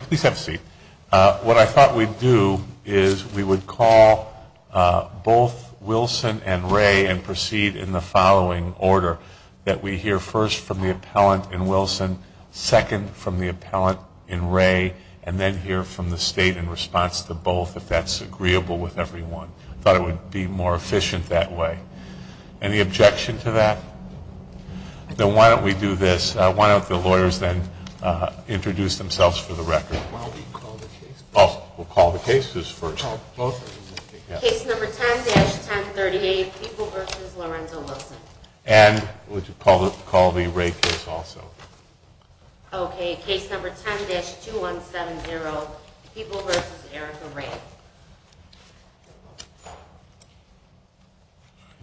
Please have a seat. What I thought we'd do is we would call both Wilson and Ray and proceed in the following order, that we hear first from the appellant in Wilson, second from the appellant in Ray, and then hear from the state in response to both, if that's agreeable with everyone. I thought it would be more efficient that way. Any objection to that? So why don't we do this, why don't the lawyers then introduce themselves for the record. We'll call the cases first. Case number 10-1038, People v. Lorenzo Wilson. And we'll call the Ray case also. Okay, case number 10-2170, People v. Erica Ray.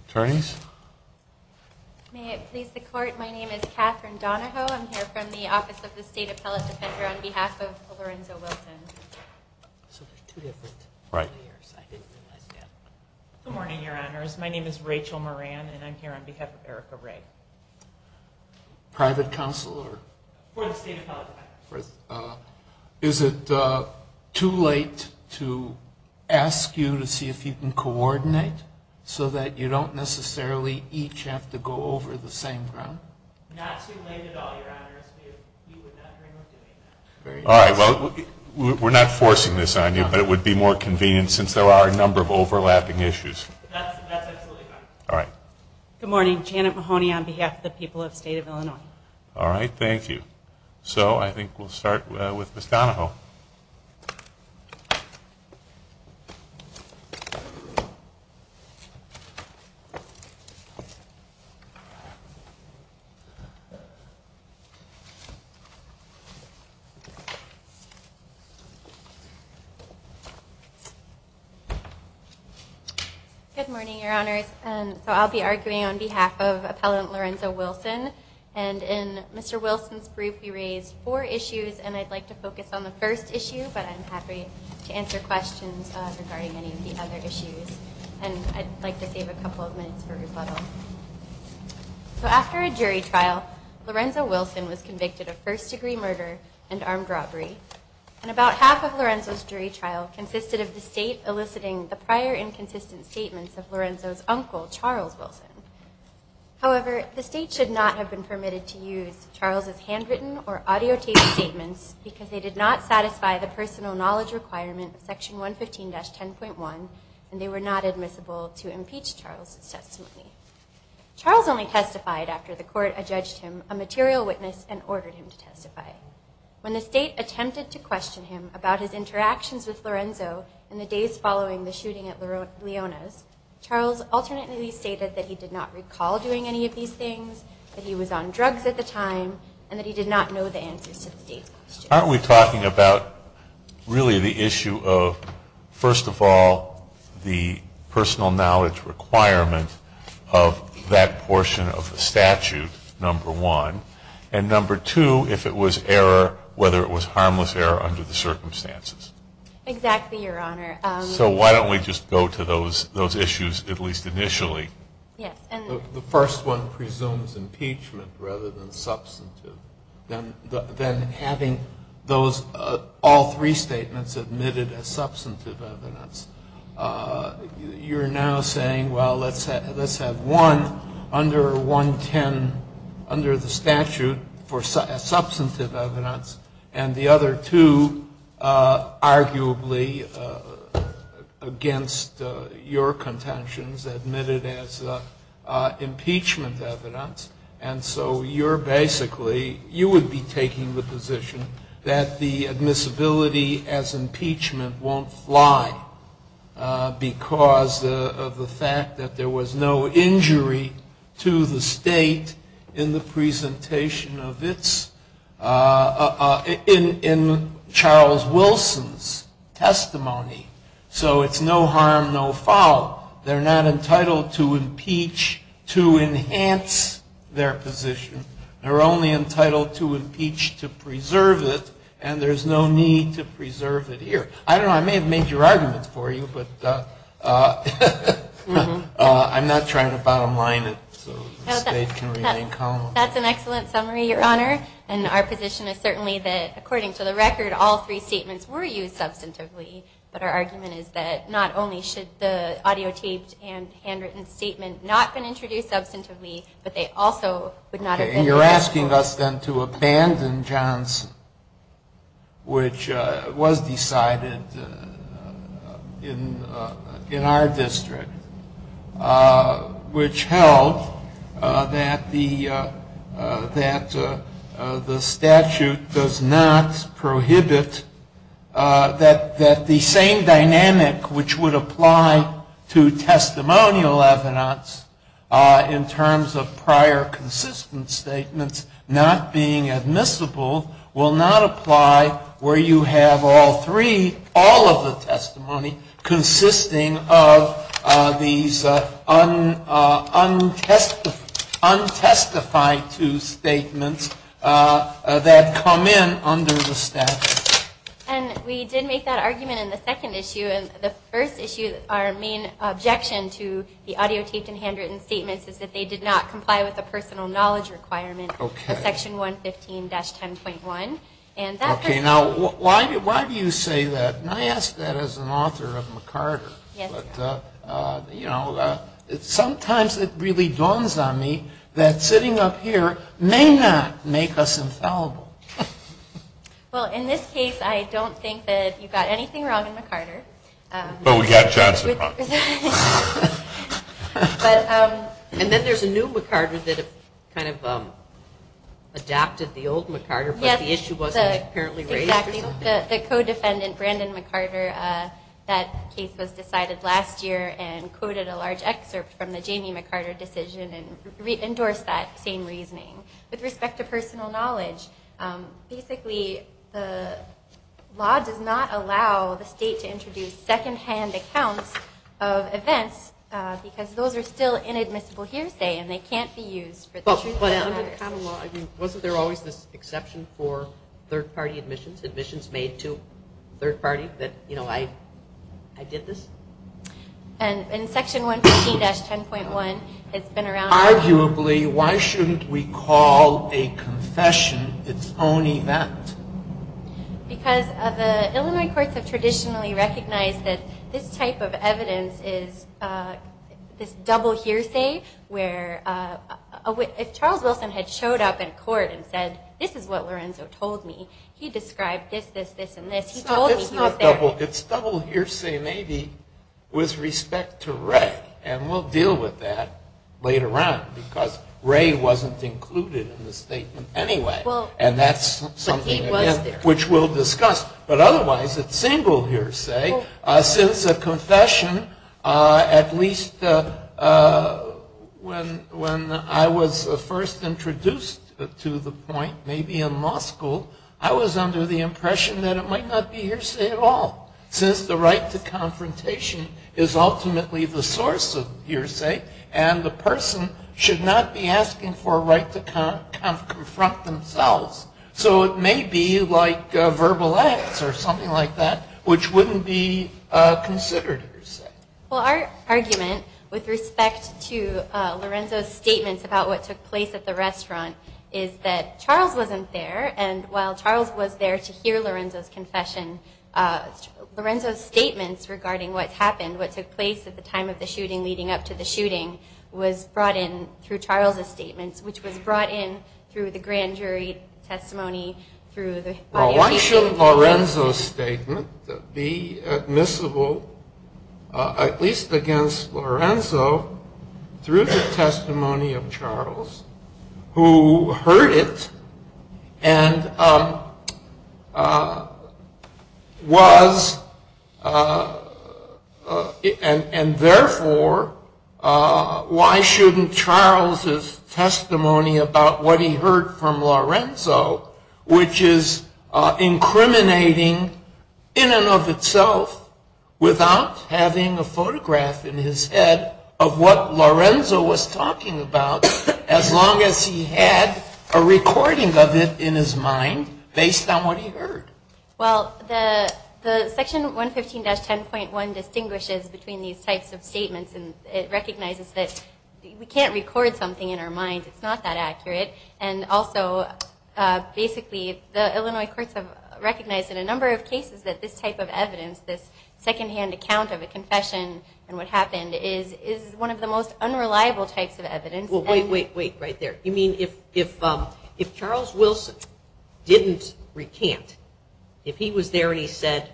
Attorneys? May it please the court, my name is Katherine Donahoe, I'm here from the Office of the State Appellate Defender on behalf of Lorenzo Wilson. Good morning, your honors. My name is Rachel Moran, and I'm here on behalf of Erica Ray. Private counsel? Is it too late to ask you to see if you can coordinate so that you don't necessarily each have to go over the same thing? Not too late at all, your honors. All right, well, we're not forcing this on you, but it would be more convenient since there are a number of overlapping issues. All right. Good morning, Janet Mahoney on behalf of the people of the state of Illinois. All right, thank you. So I think we'll start with Ms. Donahoe. Good morning, your honors. So I'll be arguing on behalf of Appellant Lorenzo Wilson. And in Mr. Wilson's brief, he raised four issues, and I'd like to focus on the first issue. But I'm happy to answer questions regarding any of the other issues. And I'd like to save a couple of minutes for rebuttal. So after a jury trial, Lorenzo Wilson was convicted of first-degree murder and armed robbery. And about half of Lorenzo's jury trial consisted of the state eliciting the prior inconsistent statements of Lorenzo's uncle, Charles Wilson. However, the state should not have been permitted to use Charles' handwritten or audio tape statements because they did not satisfy the personal knowledge requirements, section 115-10.1, and they were not admissible to impeach Charles' testimony. Charles only testified after the court adjudged him a material witness and ordered him to testify. When the state attempted to question him about his interactions with Lorenzo in the days following the shooting at Leona's, Charles alternately stated that he did not recall doing any of these things, that he was on drugs at the time, and that he did not know the answers to the state's questions. Aren't we talking about really the issue of, first of all, the personal knowledge requirement of that portion of the statute, number one? And number two, if it was error, whether it was harmless error under the circumstances? Exactly, Your Honor. So why don't we just go to those issues, at least initially? The first one presumes impeachment rather than substantive. Then having all three statements admitted as substantive evidence, you're now saying, well, let's have one under 110 under the statute for substantive evidence, and the other two arguably against your contentions admitted as impeachment evidence. And so you're basically, you would be taking the position that the admissibility as impeachment won't lie because of the fact that there was no injury to the state in the presentation of its, in Charles Wilson's testimony. So it's no harm, no foul. They're not entitled to impeach to enhance their position. They're only entitled to impeach to preserve it, and there's no need to preserve it here. I don't know. I may have made your argument for you, but I'm not trying to bottom line it so the state can remain calm. That's an excellent summary, Your Honor. And our position is certainly that, according to the record, all three statements were used substantively, but our argument is that not only should the audio tapes and handwritten statement not been introduced substantively, but they also would not have been. Okay, and you're asking us then to abandon Johnson, which was decided in our district, which held that the statute does not prohibit that the same dynamic which would apply to testimonial evidence in terms of prior consistent statements not being admissible will not apply where you have all three, all of the testimony consisting of these untestified two statements that come in under the statute. And we did make that argument in the second issue, and the first issue, our main objection to the audio tapes and handwritten statements is that they did not comply with the personal knowledge requirement of section 115-10.1. Okay, now why do you say that? And I ask that as an author of McCarter. Sometimes it really dawns on me that sitting up here may not make us infallible. Well, in this case, I don't think that you got anything wrong in McCarter. But we got Johnson. And then there's a new McCarter that kind of adapted the old McCarter, but the issue wasn't apparently raised. The co-defendant, Brandon McCarter, that case was decided last year and quoted a large excerpt from the Jamie McCarter decision and endorsed that same reasoning. With respect to personal knowledge, basically the law does not allow the state to introduce second-hand accounts of events because those are still inadmissible hearsay and they can't be used. But under the common law, wasn't there always an exception for third-party admissions, admissions made to third parties that, you know, I did this? And in section 115-10.1, it's been around. Arguably, why shouldn't we call a confession its own event? Because the Illinois courts have traditionally recognized that this type of evidence is double hearsay where Charles Wilson had showed up in court and said, this is what Lorenzo told me. He described this, this, this, and this. It's double hearsay maybe with respect to rec. And we'll deal with that later on because Ray wasn't included in the statement anyway. And that's something which we'll discuss. But otherwise, it's single hearsay. Since a confession, at least when I was first introduced to the point, maybe in law school, I was under the impression that it might not be hearsay at all. Since the right to confrontation is ultimately the source of hearsay and the person should not be asking for a right to confront themselves. So it may be like verbal acts or something like that which wouldn't be considered hearsay. Well, our argument with respect to Lorenzo's statement about what took place at the restaurant is that Charles wasn't there and while Charles was there to hear Lorenzo's confession, Lorenzo's statement regarding what happened, what took place at the time of the shooting, leading up to the shooting, was brought in through Charles' statement, which was brought in through the grand jury testimony. Well, why shouldn't Lorenzo's statement be admissible, at least against Lorenzo, through the testimony of Charles, who heard it and therefore, why shouldn't Charles' testimony about what he heard from Lorenzo, which is incriminating in and of itself without having a photograph in his head of what Lorenzo was talking about as long as he had a recording of it in his mind based on what he heard? Well, the section 115-10.1 distinguishes between these types of statements and it recognizes that we can't record something in our mind. It's not that accurate. And also, basically, the Illinois courts have recognized in a number of cases that this type of evidence, this secondhand account of a confession and what happened is one of the most unreliable types of evidence. Well, wait, wait, wait right there. You mean if Charles Wilson didn't recant, if he was there and he said,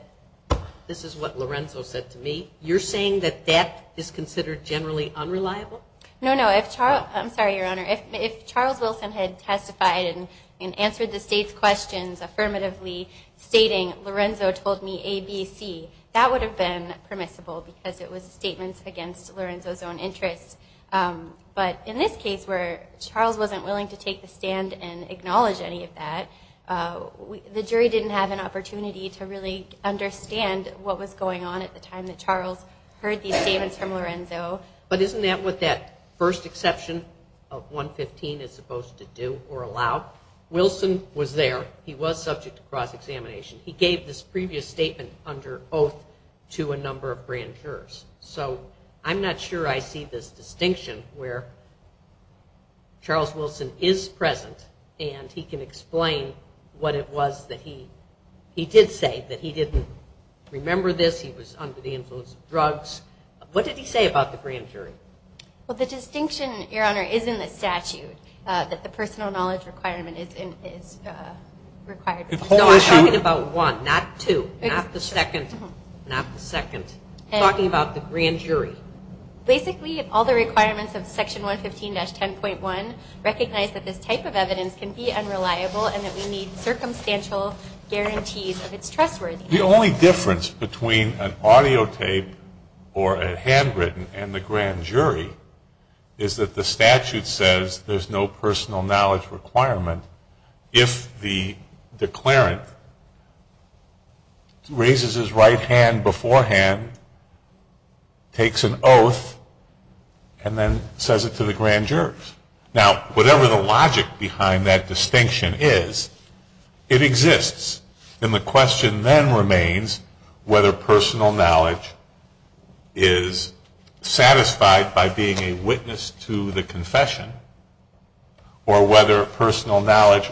this is what Lorenzo said to me, you're saying that that is considered generally unreliable? No, no. I'm sorry, Your Honor. If Charles Wilson had testified and answered the state's questions affirmatively stating Lorenzo told me ABC, that would have been permissible because it was a statement against Lorenzo's own interest. But in this case where Charles wasn't willing to take the stand and acknowledge any of that, the jury didn't have an opportunity to really understand what was going on at the time that Charles heard these statements from Lorenzo. But isn't that what that first exception of 115 is supposed to do or allow? Wilson was there. He was subject to cross-examination. He gave this previous statement under oath to a number of grand jurors. So I'm not sure I see this distinction where Charles Wilson is present and he can explain what it was that he did say, that he didn't remember this, he was under the influence of drugs. What did he say about the grand jury? Well, the distinction, Your Honor, is in the statute that the personal knowledge requirement is required. No, I'm talking about one, not two, not the second, not the second. I'm talking about the grand jury. Basically, all the requirements of Section 115-10.1 recognize that this type of evidence can be unreliable and that we need circumstantial guarantees of its trustworthiness. The only difference between an audio tape or a handwritten and the grand jury is that the statute says there's no personal knowledge requirement if the declarant raises his right hand beforehand, takes an oath, and then says it to the grand jurors. Now, whatever the logic behind that distinction is, it exists. And the question then remains whether personal knowledge is satisfied by being a witness to the confession or whether personal knowledge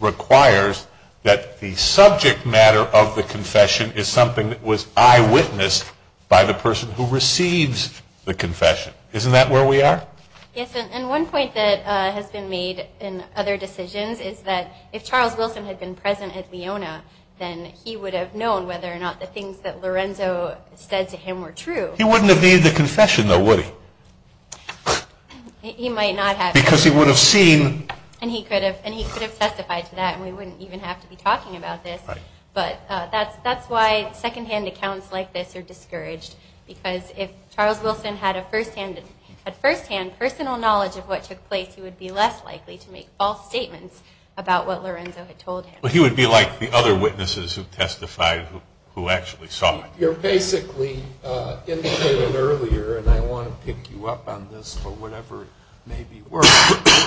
requires that the subject matter of the confession is something that was eyewitnessed by the person who receives the confession. Isn't that where we are? Yes, and one point that has been made in other decisions is that if Charles Wilson had been present at Leona, then he would have known whether or not the things that Lorenzo said to him were true. He wouldn't have made the confession, though, would he? He might not have. Because he would have seen. And he could have testified to that, and we wouldn't even have to be talking about this. But that's why secondhand accounts like this are discouraged, because if Charles Wilson had firsthand personal knowledge of what took place, he would be less likely to make false statements about what Lorenzo had told him. But he would be like the other witnesses who testified who actually saw it. You're basically indicating earlier, and I want to pick you up on this for whatever it may be worth,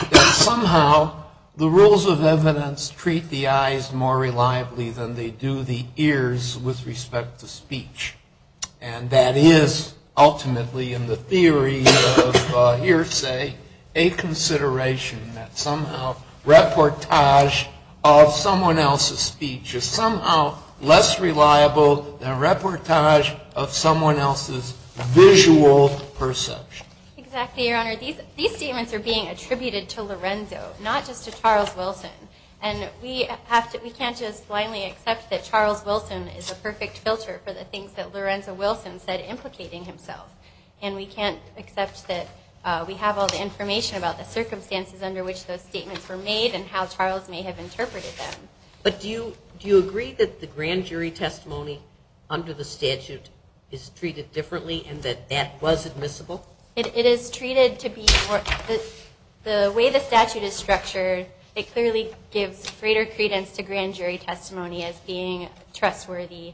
that somehow the rules of evidence treat the eyes more reliably than they do the ears with respect to speech. And that is ultimately in the theory of hearsay a consideration that somehow reportage of someone else's speech is somehow less reliable than reportage of someone else's visual perception. Exactly, Your Honor. These statements are being attributed to Lorenzo, not just to Charles Wilson. And we can't just blindly accept that Charles Wilson is a perfect filter for the things that Lorenzo Wilson said implicating himself. And we can't accept that we have all the information about the circumstances under which those statements were made and how Charles may have interpreted them. But do you agree that the grand jury testimony under the statute is treated differently and that that was admissible? It is treated to be the way the statute is structured. It clearly gives greater credence to grand jury testimony as being trustworthy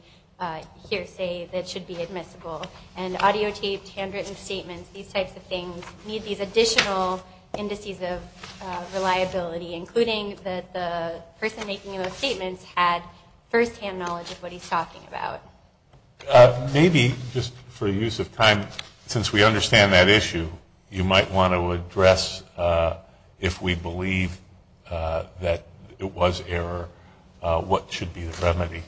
hearsay that should be admissible. And audio tapes, handwritten statements, these types of things need these additional indices of reliability, including that the person making those statements had firsthand knowledge of what he's talking about. Maybe just for the use of time, since we understand that issue, you might want to address if we believe that it was error, what should be the remedy.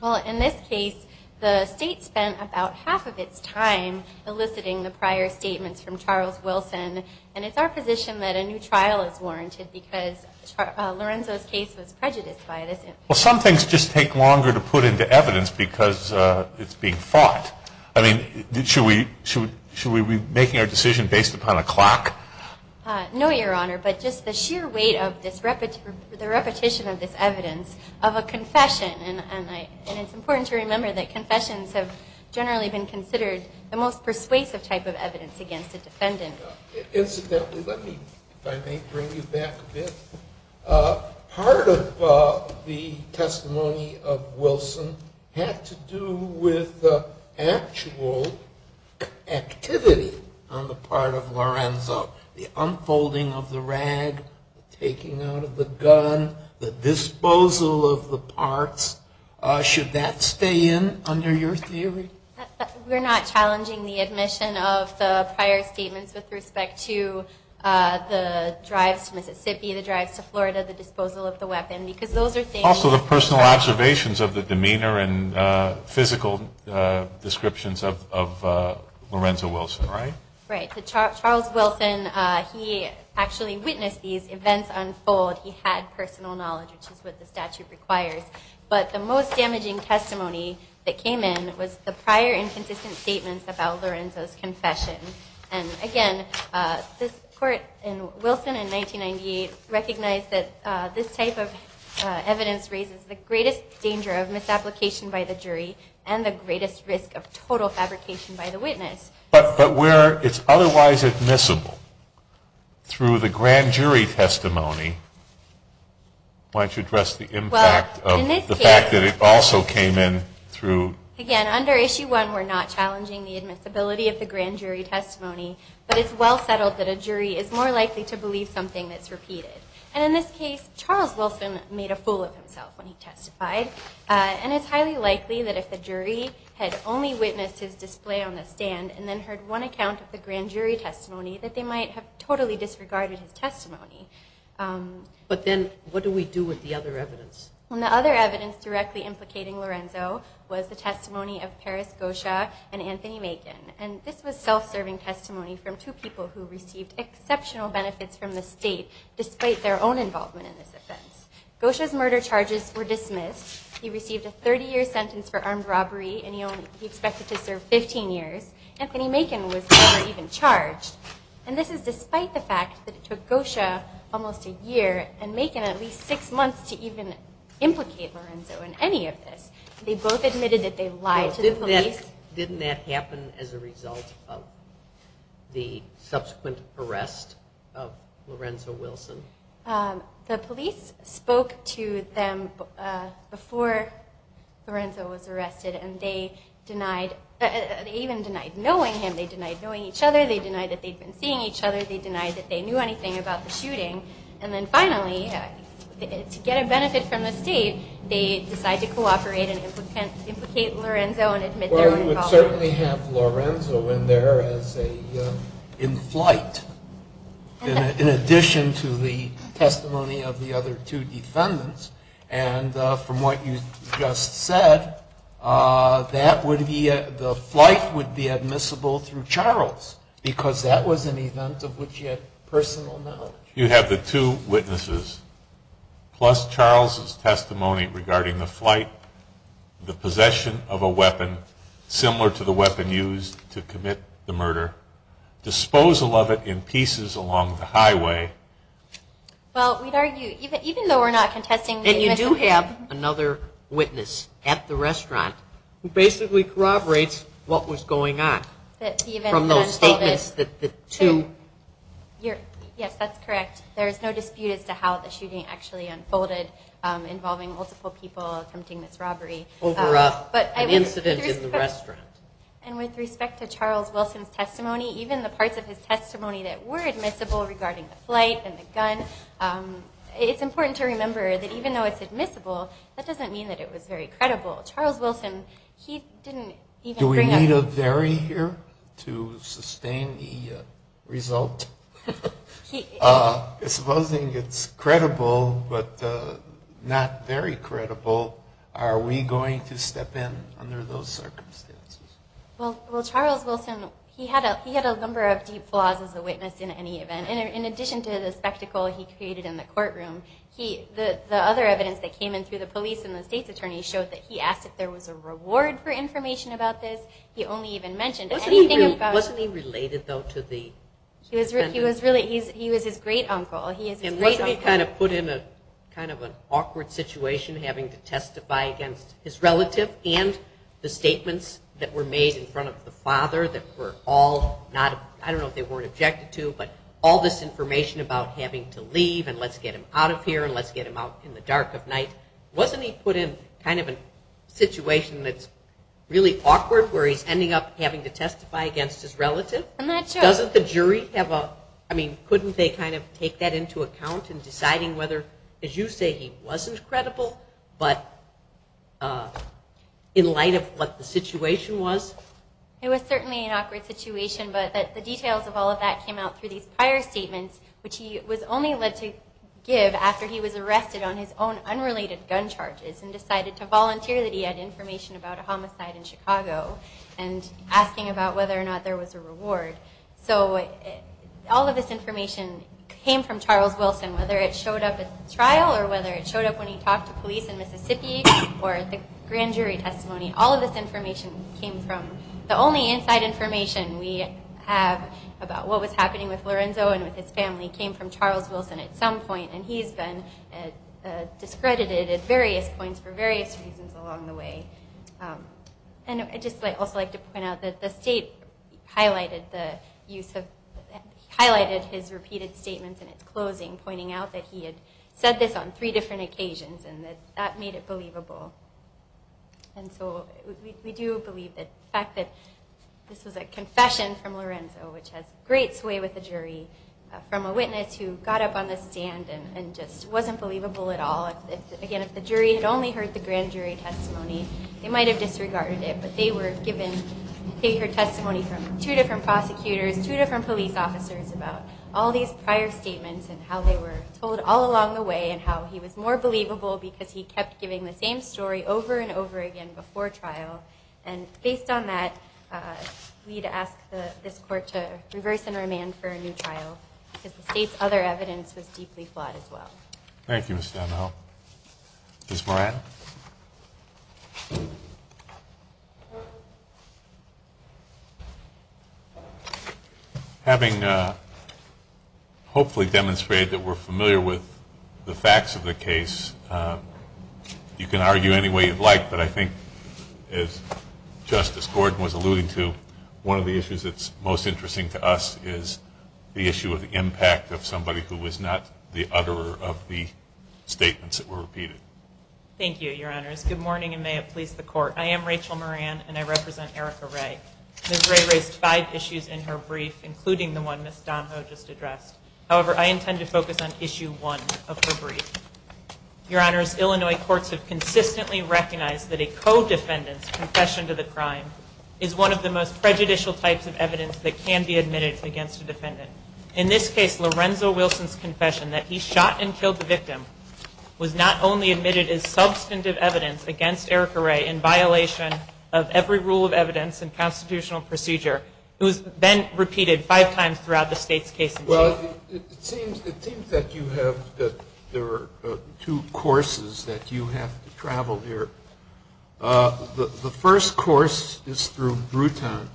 Well, in this case, the state spent about half of its time eliciting the prior statements from Charles Wilson, and it's our position that a new trial is warranted because Lorenzo's case was prejudiced by it. Well, some things just take longer to put into evidence because it's being fought. I mean, should we be making a decision based upon a clock? No, Your Honor, but just the sheer weight of the repetition of this evidence of a confession. And it's important to remember that confessions have generally been considered the most persuasive type of evidence against a defendant. Incidentally, let me bring you back to this. Part of the testimony of Wilson had to do with the actual activity on the part of Lorenzo, the unfolding of the rag, taking out of the gun, the disposal of the parts. Should that stay in under your theory? We're not challenging the admission of the prior statements with respect to the drive to Mississippi, the drive to Florida, the disposal of the weapon, because those are things that— Also the personal observations of the demeanor and physical descriptions of Lorenzo Wilson, right? Right. So Charles Wilson, he actually witnessed these events unfold. He had personal knowledge, which is what the statute requires. But the most damaging testimony that came in was the prior inconsistent statements about Lorenzo's confession. And again, the court in Wilson in 1998 recognized that this type of evidence raises the greatest danger of misapplication by the jury and the greatest risk of total fabrication by the witness. But where it's otherwise admissible, through the grand jury testimony, why don't you address the impact of— In this case— The fact that it also came in through— Again, under Issue 1, we're not challenging the admissibility of the grand jury testimony, but it's well settled that a jury is more likely to believe something that's repeated. And in this case, Charles Wilson made a fool of himself when he testified. And it's highly likely that if the jury had only witnessed his display on the stand and then heard one account of the grand jury testimony, that they might have totally disregarded his testimony. But then, what do we do with the other evidence? Well, the other evidence directly implicating Lorenzo was the testimony of Paris Gosha and Anthony Macon. And this was self-serving testimony from two people who received exceptional benefits from the state, despite their own involvement in this offense. Gosha's murder charges were dismissed. He received a 30-year sentence for armed robbery, and he only—he expected to serve 15 years. Anthony Macon was never even charged. And this is despite the fact that it took Gosha almost a year, and Macon at least six months, to even implicate Lorenzo in any of this. They both admitted that they lied to the police. Didn't that happen as a result of the subsequent arrest of Lorenzo Wilson? The police spoke to them before Lorenzo was arrested, and they denied—they even denied knowing him. They denied knowing each other. They denied that they'd been seeing each other. They denied that they knew anything about the shooting. And then finally, to get a benefit from the state, they decided to cooperate and implicate Lorenzo. Well, you would certainly have Lorenzo in there as a—in flight, in addition to the testimony of the other two defendants. And from what you just said, that would be—the flight would be admissible through Charles, because that was an event of which he had personal knowledge. You'd have the two witnesses, plus Charles' testimony regarding the flight, the possession of a weapon similar to the weapon used to commit the murder, disposal of it in pieces along the highway. Well, we'd argue, even though we're not contesting— And you do have another witness at the restaurant who basically corroborates what was going on. Yes, that's correct. There's no dispute as to how the shooting actually unfolded, involving multiple people, something that's robbery. Over an incident in the restaurant. And with respect to Charles Wilson's testimony, even the parts of his testimony that were admissible regarding the flight and the gun, it's important to remember that even though it's admissible, that doesn't mean that it was very credible. Charles Wilson, he didn't even bring up— Do we need a very here to sustain the result? Supposing it's credible, but not very credible, are we going to step in under those circumstances? Well, Charles Wilson, he had a number of deep flaws as a witness in any event. In addition to the spectacle he created in the courtroom, the other evidence that came in through the police and the state's attorney showed that he asked if there was a reward for information about this. He only even mentioned— Wasn't he related, though, to the— He was his great-uncle. Wasn't he kind of put in a kind of an awkward situation, having to testify against his relative and the statements that were made in front of the father that were all not— I don't know if they were objected to, but all this information about having to leave and let's get him out of here and let's get him out in the dark of night. Wasn't he put in kind of a situation that's really awkward, where he's ending up having to testify against his relative? I'm not sure. Doesn't the jury have a—I mean, couldn't they kind of take that into account in deciding whether, as you say, he wasn't credible, but in light of what the situation was? It was certainly an awkward situation, but the details of all of that came out through these prior statements, which he was only led to give after he was arrested on his own unrelated gun charges and decided to volunteer that he had information about a homicide in Chicago and asking about whether or not there was a reward. So all of this information came from Charles Wilson, whether it showed up at the trial or whether it showed up when he talked to police in Mississippi or at the grand jury testimony. All of this information came from—the only inside information we have about what was happening with Lorenzo and with his family came from Charles Wilson at some point, and he's been discredited at various points for various reasons along the way. And I'd just also like to point out that the state highlighted the use of— highlighted his repeated statements in its closing, pointing out that he had said this on three different occasions and that that made it believable. And so we do believe that the fact that this is a confession from Lorenzo, which has great sway with the jury, from a witness who got up on the stand and just wasn't believable at all. Again, if the jury had only heard the grand jury testimony, they might have disregarded it, but they were given—they heard testimony from two different prosecutors, two different police officers about all these prior statements and how they were told all along the way and how he was more believable because he kept giving the same story over and over again before trial. And based on that, we'd ask this court to reverse and remand for a new trial because the state's other evidence was deeply flawed as well. Thank you, Mr. Donahoe. Ms. Moran. Having hopefully demonstrated that we're familiar with the facts of the case, you can argue any way you'd like, but I think, as Justice Gordon was alluding to, one of the issues that's most interesting to us is the issue of the impact of somebody who was not the utterer of the statements that were repeated. Thank you, Your Honors. Good morning, and may it please the Court. I am Rachel Moran, and I represent Erica Ray. Ms. Ray raised five issues in her brief, including the one Ms. Donahoe just addressed. However, I intend to focus on issue one of her brief. Your Honors, Illinois courts have consistently recognized that a co-defendant's confession to the crime is one of the most prejudicial types of evidence that can be admitted against a defendant. In this case, Lorenzo Wilson's confession that he shot and killed the victim was not only admitted as substantive evidence against Erica Ray in violation of every rule of evidence and constitutional procedure, it was then repeated five times throughout the state's case. Well, it seems that you have two courses that you have to travel here. The first course is through Bruton,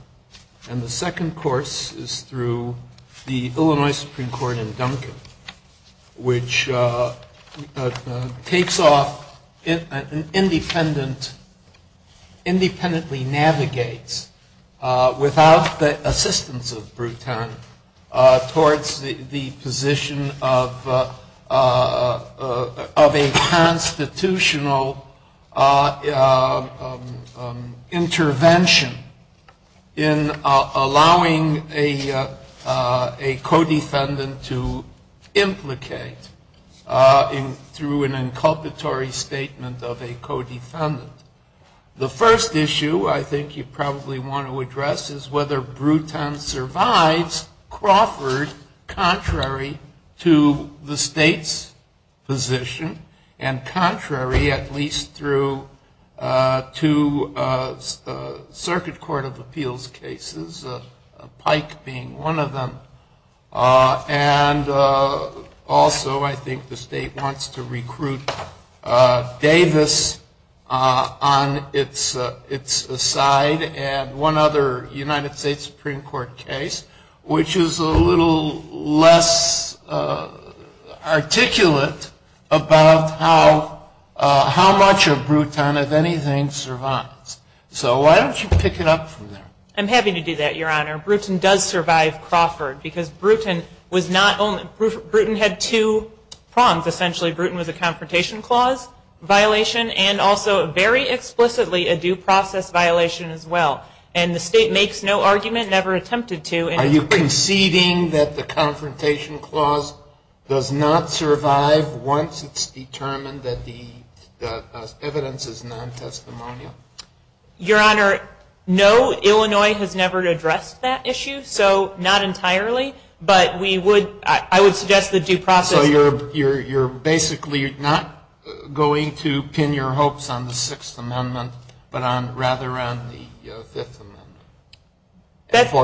and the second course is through the Illinois Supreme Court in Duncan, which takes off and independently navigates, without the assistance of Bruton, towards the position of a constitutional intervention in allowing a co-defendant to implicate through an inculpatory statement of a co-defendant. The first issue I think you probably want to address is whether Bruton survives Crawford, contrary to the state's position, and contrary at least through two circuit court of appeals cases, Pike being one of them. And also I think the state wants to recruit Davis on its side, and one other United States Supreme Court case, which is a little less articulate about how much of Bruton, if anything, survives. So why don't you pick it up from there? Bruton does survive Crawford, because Bruton was not only, Bruton had two prongs, essentially Bruton was a confrontation clause violation, and also very explicitly a due process violation as well. And the state makes no argument, never attempted to. Are you conceding that the confrontation clause does not survive once it's determined that the evidence is non-testimonial? Your Honor, no, Illinois has never addressed that issue, so not entirely. But we would, I would suggest the due process. So you're basically not going to pin your hopes on the Sixth Amendment, but rather on the Fifth Amendment?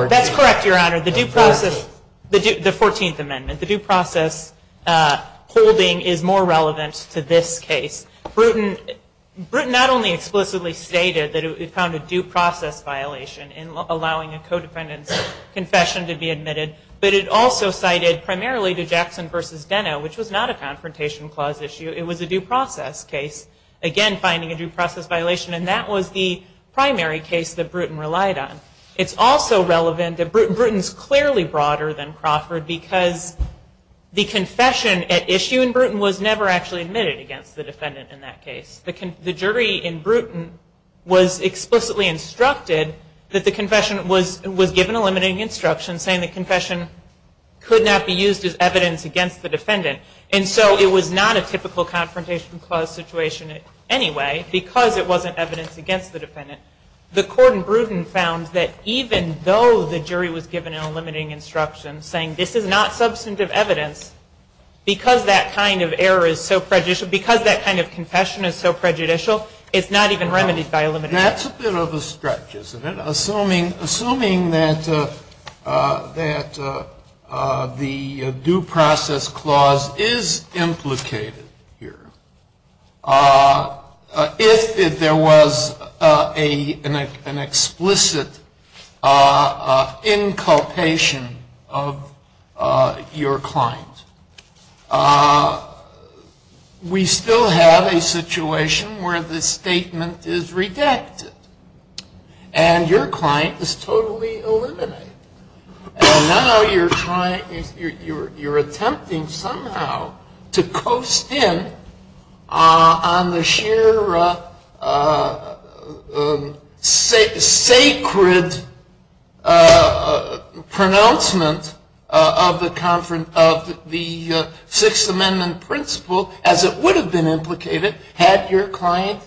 That's correct, Your Honor. The due process, the Fourteenth Amendment, the due process holding is more relevant to this case. Bruton not only explicitly stated that it found a due process violation in allowing a co-defendant's confession to be admitted, but it also cited primarily to Jackson v. Benno, which was not a confrontation clause issue, it was a due process case. Again, finding a due process violation, and that was the primary case that Bruton relied on. It's also relevant that Bruton's clearly broader than Crawford, because the confession at issue in Bruton was never actually admitted against the defendant in that case. The jury in Bruton was explicitly instructed that the confession was given a limiting instruction, saying the confession could not be used as evidence against the defendant. And so it was not a typical confrontation clause situation anyway, because it wasn't evidence against the defendant. The court in Bruton found that even though the jury was given a limiting instruction saying this is not substantive evidence, because that kind of error is so prejudicial, because that kind of confession is so prejudicial, it's not even remedied by a limiting instruction. That's a bit of a stretch, isn't it? Assuming that the due process clause is implicated here, if there was an explicit inculpation of your client, we still have a situation where the statement is redacted. And your client is totally eliminated. And now you're attempting somehow to coast in on the sheer sacred pronouncement of the Sixth Amendment principle, as it would have been implicated had your client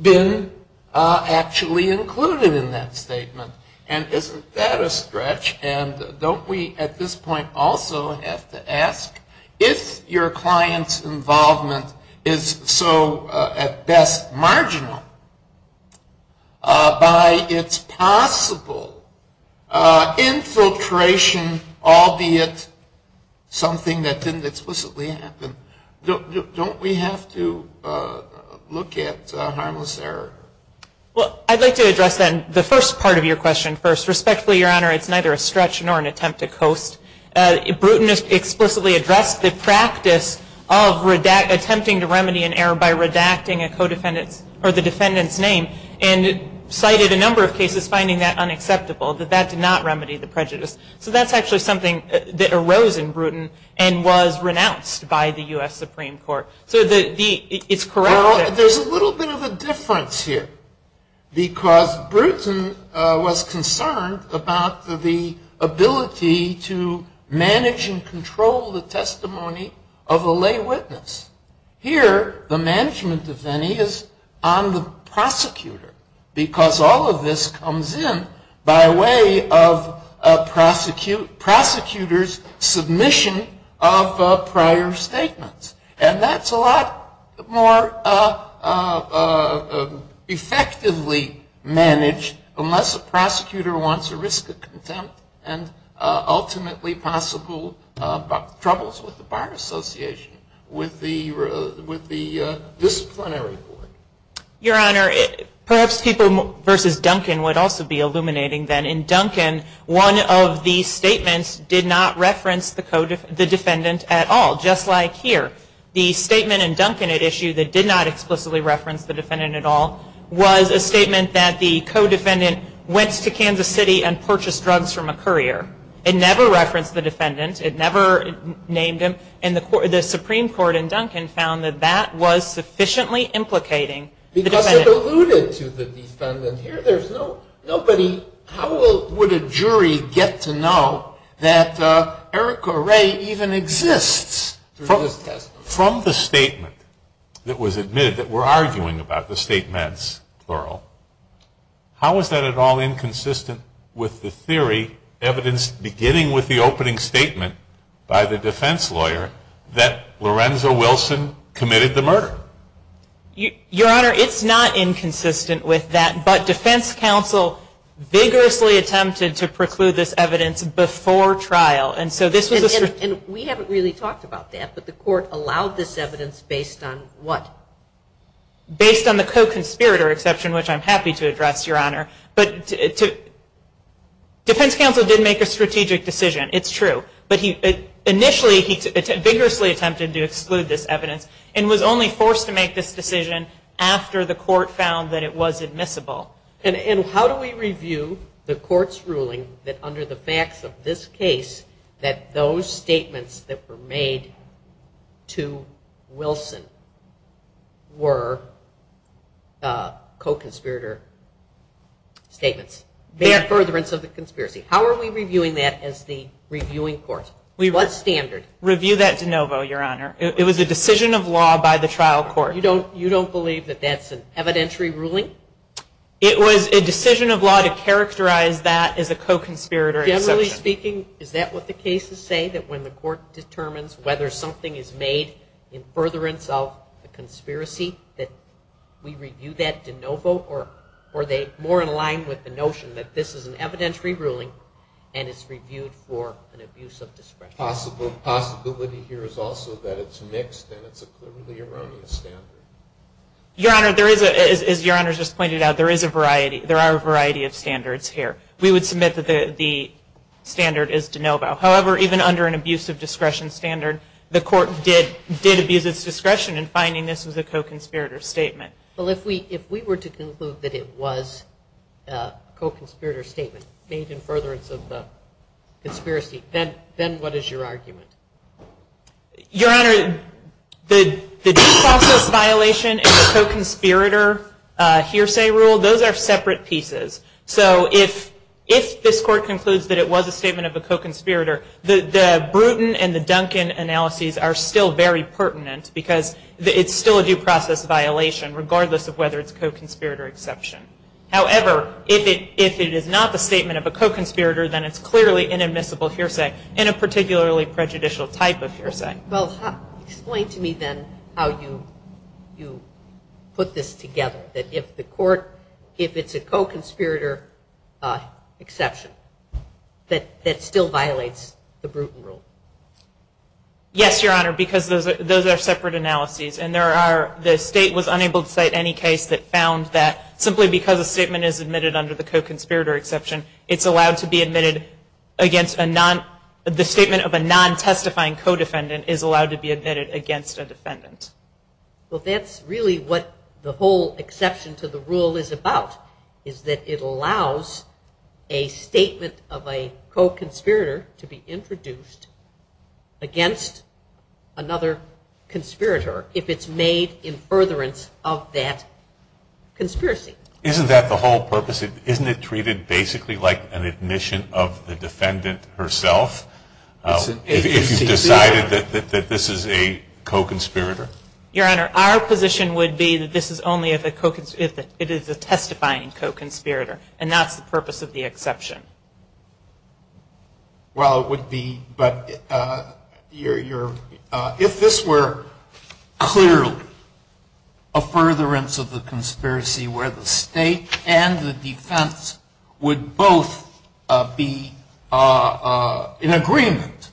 been actually included in that statement. And isn't that a stretch? And don't we at this point also have to ask, if your client's involvement is so, at best, marginal, by its possible infiltration, albeit something that didn't explicitly happen, don't we have to look at harmless error? Well, I'd like to address the first part of your question first. Respectfully, Your Honor, it's neither a stretch nor an attempt to coast. Bruton has explicitly addressed the practice of attempting to remedy an error by redacting the defendant's name and cited a number of cases finding that unacceptable, that that did not remedy the prejudice. So that's actually something that arose in Bruton and was renounced by the U.S. Supreme Court. So it's correct. Well, there's a little bit of a difference here. Because Bruton was concerned about the ability to manage and control the testimony of a lay witness. Here, the management of any is on the prosecutor, because all of this comes in by way of a prosecutor's submission of prior statements. And that's a lot more effectively managed unless a prosecutor wants a risk of contempt and ultimately possible troubles with the fire association with the disciplinary court. Your Honor, perhaps people versus Duncan would also be illuminating then. In Duncan, one of the statements did not reference the defendant at all, just like here. The statement in Duncan at issue that did not explicitly reference the defendant at all was a statement that the co-defendant went to Kansas City and purchased drugs from a courier. It never referenced the defendant. It never named him. And the Supreme Court in Duncan found that that was sufficiently implicating the defendant. Because it's alluded to the defendant. How would a jury get to know that Erica Ray even exists? From the statement that was admitted that we're arguing about the statements, how is that at all inconsistent with the theory evidenced beginning with the opening statement by the defense lawyer that Lorenzo Wilson committed the murder? Your Honor, it's not inconsistent with that. But defense counsel vigorously attempted to preclude this evidence before trial. And we haven't really talked about that, but the court allowed this evidence based on what? Based on the co-conspirator exception, which I'm happy to address, Your Honor. But defense counsel did make a strategic decision. It's true. But initially he vigorously attempted to exclude this evidence and was only forced to make this decision after the court found that it was admissible. And how do we review the court's ruling that under the facts of this case that those statements that were made to Wilson were co-conspirator statements? In furtherance of the conspiracy. How are we reviewing that as the reviewing court? What standard? Review that de novo, Your Honor. It was a decision of law by the trial court. You don't believe that that's an evidentiary ruling? It was a decision of law to characterize that as a co-conspirator exception. Generally speaking, is that what the cases say, that when the court determines whether something is made in furtherance of the conspiracy, that we review that de novo? Or are they more in line with the notion that this is an evidentiary ruling and it's reviewed for an abuse of discretion? The possibility here is also that it's mixed and it's a clearly erroneous standard. Your Honor, as Your Honor just pointed out, there is a variety. There are a variety of standards here. We would submit that the standard is de novo. However, even under an abuse of discretion standard, the court did abuse of discretion in finding this was a co-conspirator statement. Well, if we were to conclude that it was a co-conspirator statement, made in furtherance of the conspiracy, then what is your argument? Your Honor, the default court violation and the co-conspirator hearsay rule, those are separate pieces. So if this court concludes that it was a statement of a co-conspirator, the Bruton and the Duncan analyses are still very pertinent because it's still a due process violation regardless of whether it's co-conspirator exception. However, if it is not the statement of a co-conspirator, then it's clearly inadmissible hearsay in a particularly prejudicial type of hearsay. Well, explain to me then how you put this together, that if the court, if it's a co-conspirator exception, that still violates the Bruton rule. Yes, Your Honor, because those are separate analyses. And there are, the state was unable to cite any case that found that simply because a statement is admitted under the co-conspirator exception, it's allowed to be admitted against a non, the statement of a non-testifying co-defendant is allowed to be admitted against a defendant. Well, that's really what the whole exception to the rule is about, is that it allows a statement of a co-conspirator to be introduced against another conspirator if it's made in furtherance of that conspiracy. Isn't that the whole purpose? Isn't it treated basically like an admission of the defendant herself? If you've decided that this is a co-conspirator? Your Honor, our position would be that this is only if it is a testifying co-conspirator, and that's the purpose of the exception. Well, it would be, but if this were clearly a furtherance of the conspiracy where the state and the defense would both be in agreement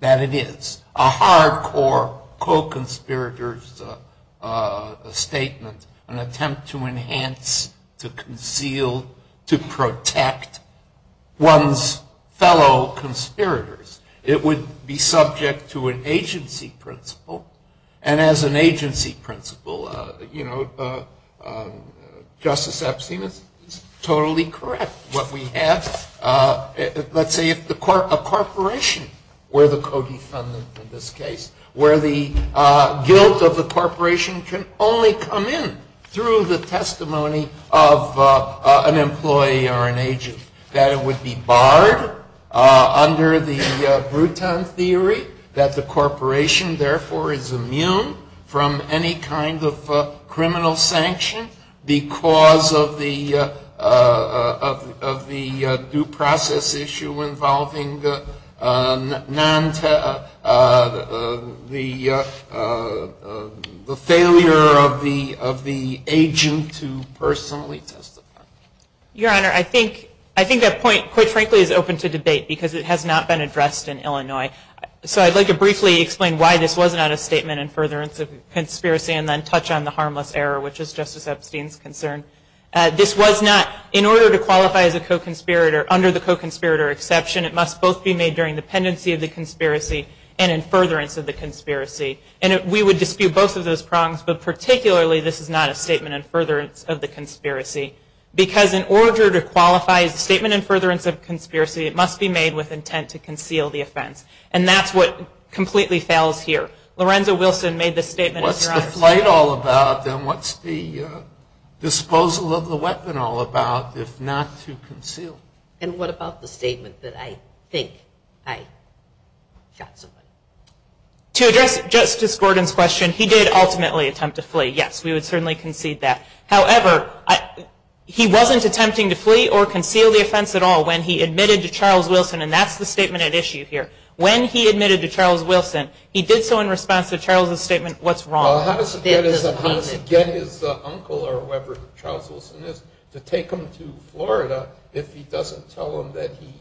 that it is a hard core co-conspirators statement, an attempt to enhance, to conceal, to protect one's fellow conspirators, it would be subject to an agency principle. And as an agency principle, Justice Epstein is totally correct. What we have, let's say, if a corporation were the co-defendant in this case, where the guilt of the corporation can only come in through the testimony of an employee or an agent, that it would be barred under the Bruton theory, that the corporation therefore is immune from any kind of criminal sanction because of the due process issue involving the failure of the agent to personally testify. Your Honor, I think that point, quite frankly, is open to debate because it has not been addressed in Illinois. So I'd like to briefly explain why this was not a statement in furtherance of the conspiracy and then touch on the harmless error, which is Justice Epstein's concern. This was not, in order to qualify as a co-conspirator, under the co-conspirator exception, it must both be made during dependency of the conspiracy and in furtherance of the conspiracy. And we would dispute both of those prongs, but particularly this was not a statement in furtherance of the conspiracy because in order to qualify a statement in furtherance of a conspiracy, it must be made with intent to conceal the offense. And that's what completely fails here. Lorenzo Wilson made the statement, Your Honor. What's the fight all about, then? What's the disposal of the weapon all about if not to conceal? And what about the statement that I think I, Justice Epstein? To address Justice Gordon's question, he did ultimately attempt to flee. Yes, we would certainly concede that. However, he wasn't attempting to flee or conceal the offense at all when he admitted to Charles Wilson, and that's the statement at issue here. When he admitted to Charles Wilson, he did so in response to Charles' statement, what's wrong? How does he get his uncle or whoever Charles Wilson is to take him to Florida if he doesn't tell him that he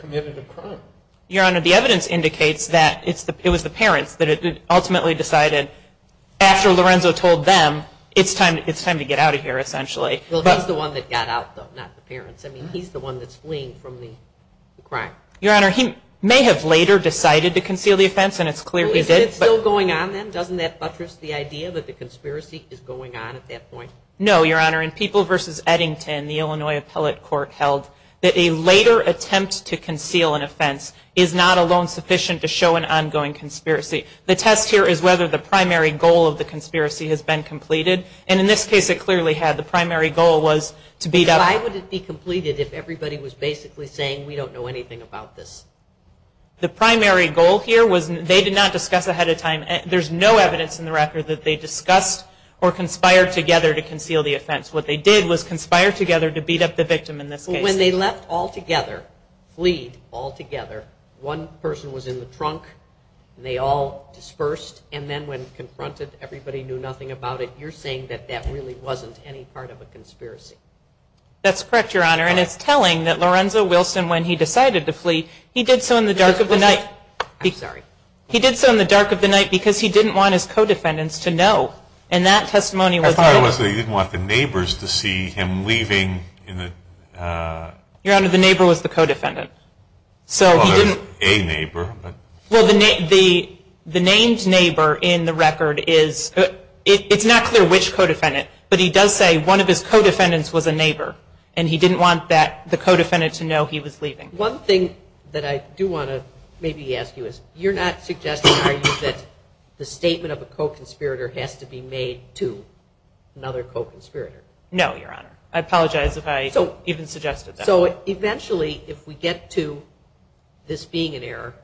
committed a crime? Your Honor, the evidence indicates that it was the parents that ultimately decided, after Lorenzo told them, it's time to get out of here, essentially. Well, he's the one that got out, though, not the parents. I mean, he's the one that's fleeing from the crime. Your Honor, he may have later decided to conceal the offense, and it's clear he did. Is this still going on, then? Doesn't that buttress the idea that the conspiracy is going on at that point? No, Your Honor, in People v. Eddington, the Illinois Appellate Court held that a later attempt to conceal an offense is not alone sufficient to show an ongoing conspiracy. The test here is whether the primary goal of the conspiracy has been completed, and in this case it clearly had. The primary goal was to beat up. Why would it be completed if everybody was basically saying we don't know anything about this? The primary goal here was they did not discuss ahead of time. There's no evidence in the record that they discussed or conspired together to conceal the offense. What they did was conspire together to beat up the victim in this case. When they left all together, fleed all together, one person was in the trunk, and they all dispersed, and then when confronted, everybody knew nothing about it. You're saying that that really wasn't any part of a conspiracy. That's correct, Your Honor, and it's telling that Lorenzo Wilson, when he decided to flee, he did so in the dark of the night because he didn't want his co-defendants to know, and that testimony was not true. He didn't want the neighbors to see him leaving. Your Honor, the neighbor was the co-defendant. A neighbor. Well, the named neighbor in the record is, it's not clear which co-defendant, but he does say one of his co-defendants was a neighbor, and he didn't want the co-defendant to know he was leaving. One thing that I do want to maybe ask you is, you're not suggesting, are you, that the statement of a co-conspirator has to be made to another co-conspirator? No, Your Honor. I apologize if I even suggested that. So, eventually, if we get to this being an error,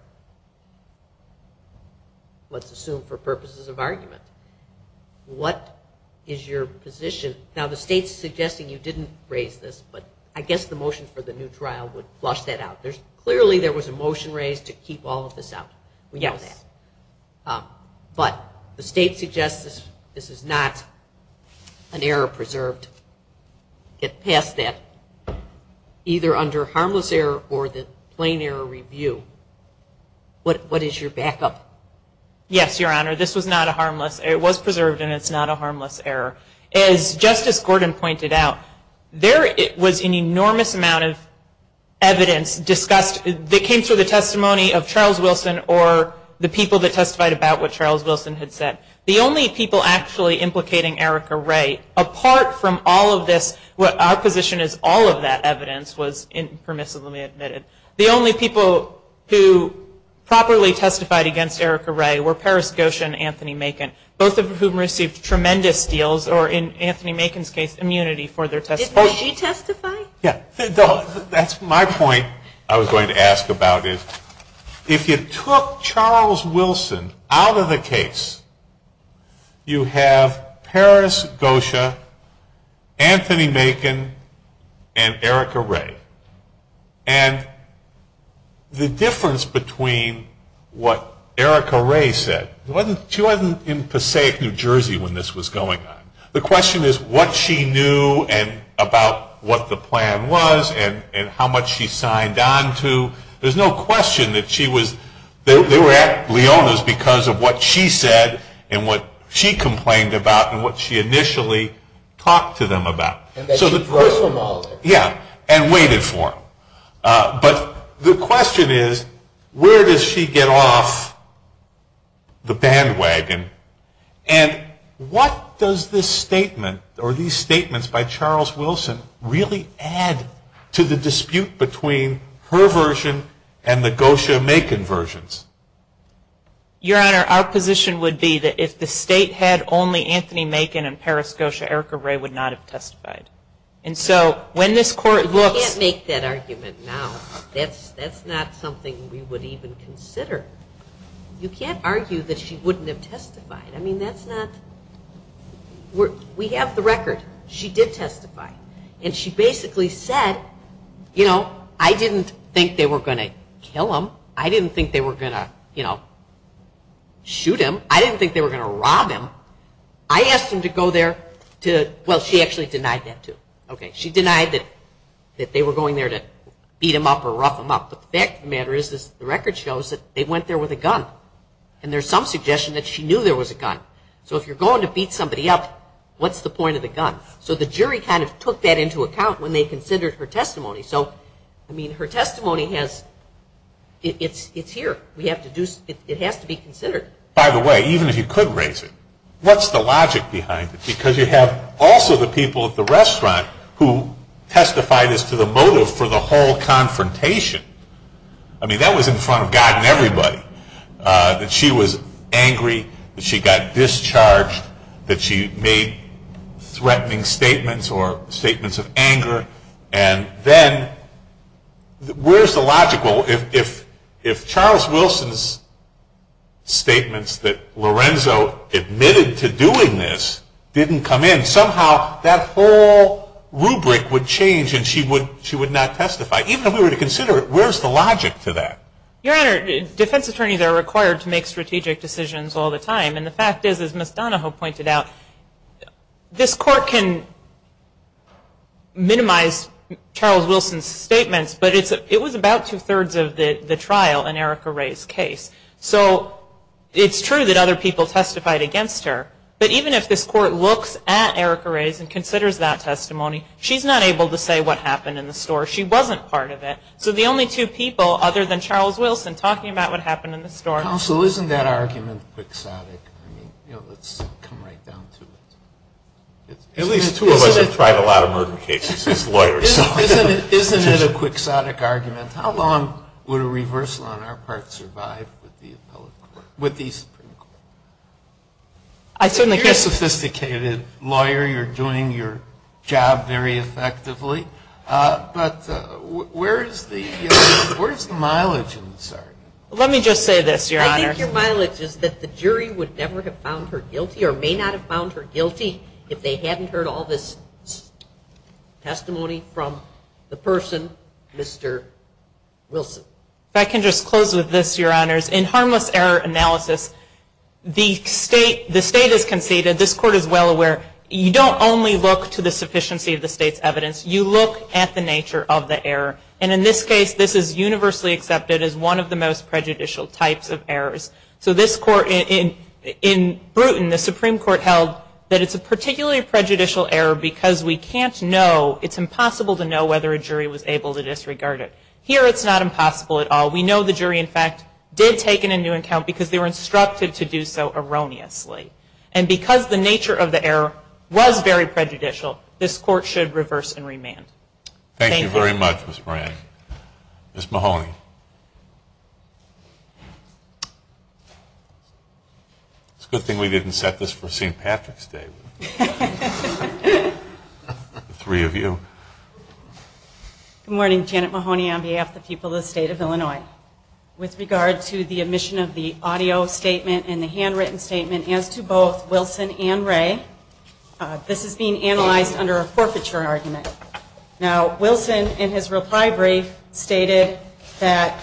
let's assume for purposes of argument, what is your position? Now, the State's suggesting you didn't raise this, but I guess the motion for the new trial would flush that out. Clearly there was a motion raised to keep all of this out. But the State suggests this is not an error preserved. It's passed that, either under harmless error or the plain error review. What is your backup? Yes, Your Honor, this was not a harmless error. It was preserved, and it's not a harmless error. As Justice Gordon pointed out, there was an enormous amount of evidence discussed that came through the testimony of Charles Wilson or the people that testified about what Charles Wilson had said. The only people actually implicating Erica Ray, apart from all of this, our position is all of that evidence was permissibly admitted. The only people who properly testified against Erica Ray were Paris Gosha and Anthony Makin, both of whom received tremendous deals or, in Anthony Makin's case, immunity for their testimony. Did she testify? Yes. That's my point I was going to ask about is if you took Charles Wilson out of the case, you have Paris Gosha, Anthony Makin, and Erica Ray. And the difference between what Erica Ray said, she wasn't in Passaic, New Jersey, when this was going on. The question is what she knew about what the plan was and how much she signed on to. There's no question that they were at Leona's because of what she said and what she complained about and what she initially talked to them about. And that she was a personal volunteer. Yeah. And waited for them. But the question is where does she get off the bandwagon? And what does this statement or these statements by Charles Wilson really add to the dispute between her version and the Gosha Makin versions? Your Honor, our position would be that if the state had only Anthony Makin and Paris Gosha, Erica Ray would not have testified. You can't make that argument now. That's not something we would even consider. You can't argue that she wouldn't have testified. I mean, that's not... We have the record. She did testify. And she basically said, you know, I didn't think they were going to kill him. I didn't think they were going to, you know, shoot him. I didn't think they were going to rob him. I asked them to go there to... Well, she actually denied that too. She denied that they were going there to beat him up or rough him up. But the fact of the matter is the record shows that they went there with a gun. And there's some suggestion that she knew there was a gun. So if you're going to beat somebody up, what's the point of the gun? So the jury kind of took that into account when they considered her testimony. So, I mean, her testimony has... It's here. We have to do... It has to be considered. By the way, even if you could raise it, what's the logic behind it? Because you have also the people at the restaurant who testified as to the motive for the whole confrontation. I mean, that was in front of God and everybody, that she was angry, that she got discharged, that she made threatening statements or statements of anger. And then where's the logic? Well, if Charles Wilson's statements that Lorenzo admitted to doing this didn't come in, somehow that whole rubric would change and she would not testify. Even if we were to consider it, where's the logic to that? Your Honor, defense attorneys are required to make strategic decisions all the time. And the fact is, as Ms. Donahoe pointed out, this court can minimize Charles Wilson's statements, but it was about two-thirds of the trial in Erica Ray's case. So, it's true that other people testified against her, but even if this court looks at Erica Ray's and considers that testimony, she's not able to say what happened in the store. She wasn't part of it. So, the only two people other than Charles Wilson talking about what happened in the store... Counsel, isn't that argument exotic? I mean, you know, let's come right down to it. At least two of us have tried a lot of murder cases as lawyers. Isn't it a quixotic argument? How long would a reversal on our part survive with these? You're a sophisticated lawyer. You're doing your job very effectively. But where does the mileage insert? Let me just say this, Your Honor. I think your mileage is that the jury would never have found her guilty or may not have found her guilty if they hadn't heard all this testimony from the person, Mr. Wilson. If I can just close with this, Your Honors. In harmless error analysis, the state has conceded, this court is well aware, you don't only look to the sufficiency of the state's evidence, you look at the nature of the error. And in this case, this is universally accepted as one of the most prejudicial types of errors. So this court, in Bruton, the Supreme Court held that it's a particularly prejudicial error because we can't know, it's impossible to know whether a jury was able to disregard it. Here it's not impossible at all. We know the jury, in fact, did take in a new account because they were instructed to do so erroneously. And because the nature of the error was very prejudicial, this court should reverse and remand. Thank you very much, Ms. Moran. Ms. Mahoney. It's a good thing we didn't set this for St. Patrick's Day. The three of you. Good morning, Janet Mahoney on behalf of the people of the state of Illinois. With regard to the omission of the audio statement and the handwritten statement as to both Wilson and Ray, this is being analyzed under a forfeiture argument. Now, Wilson, in his reply brief, stated that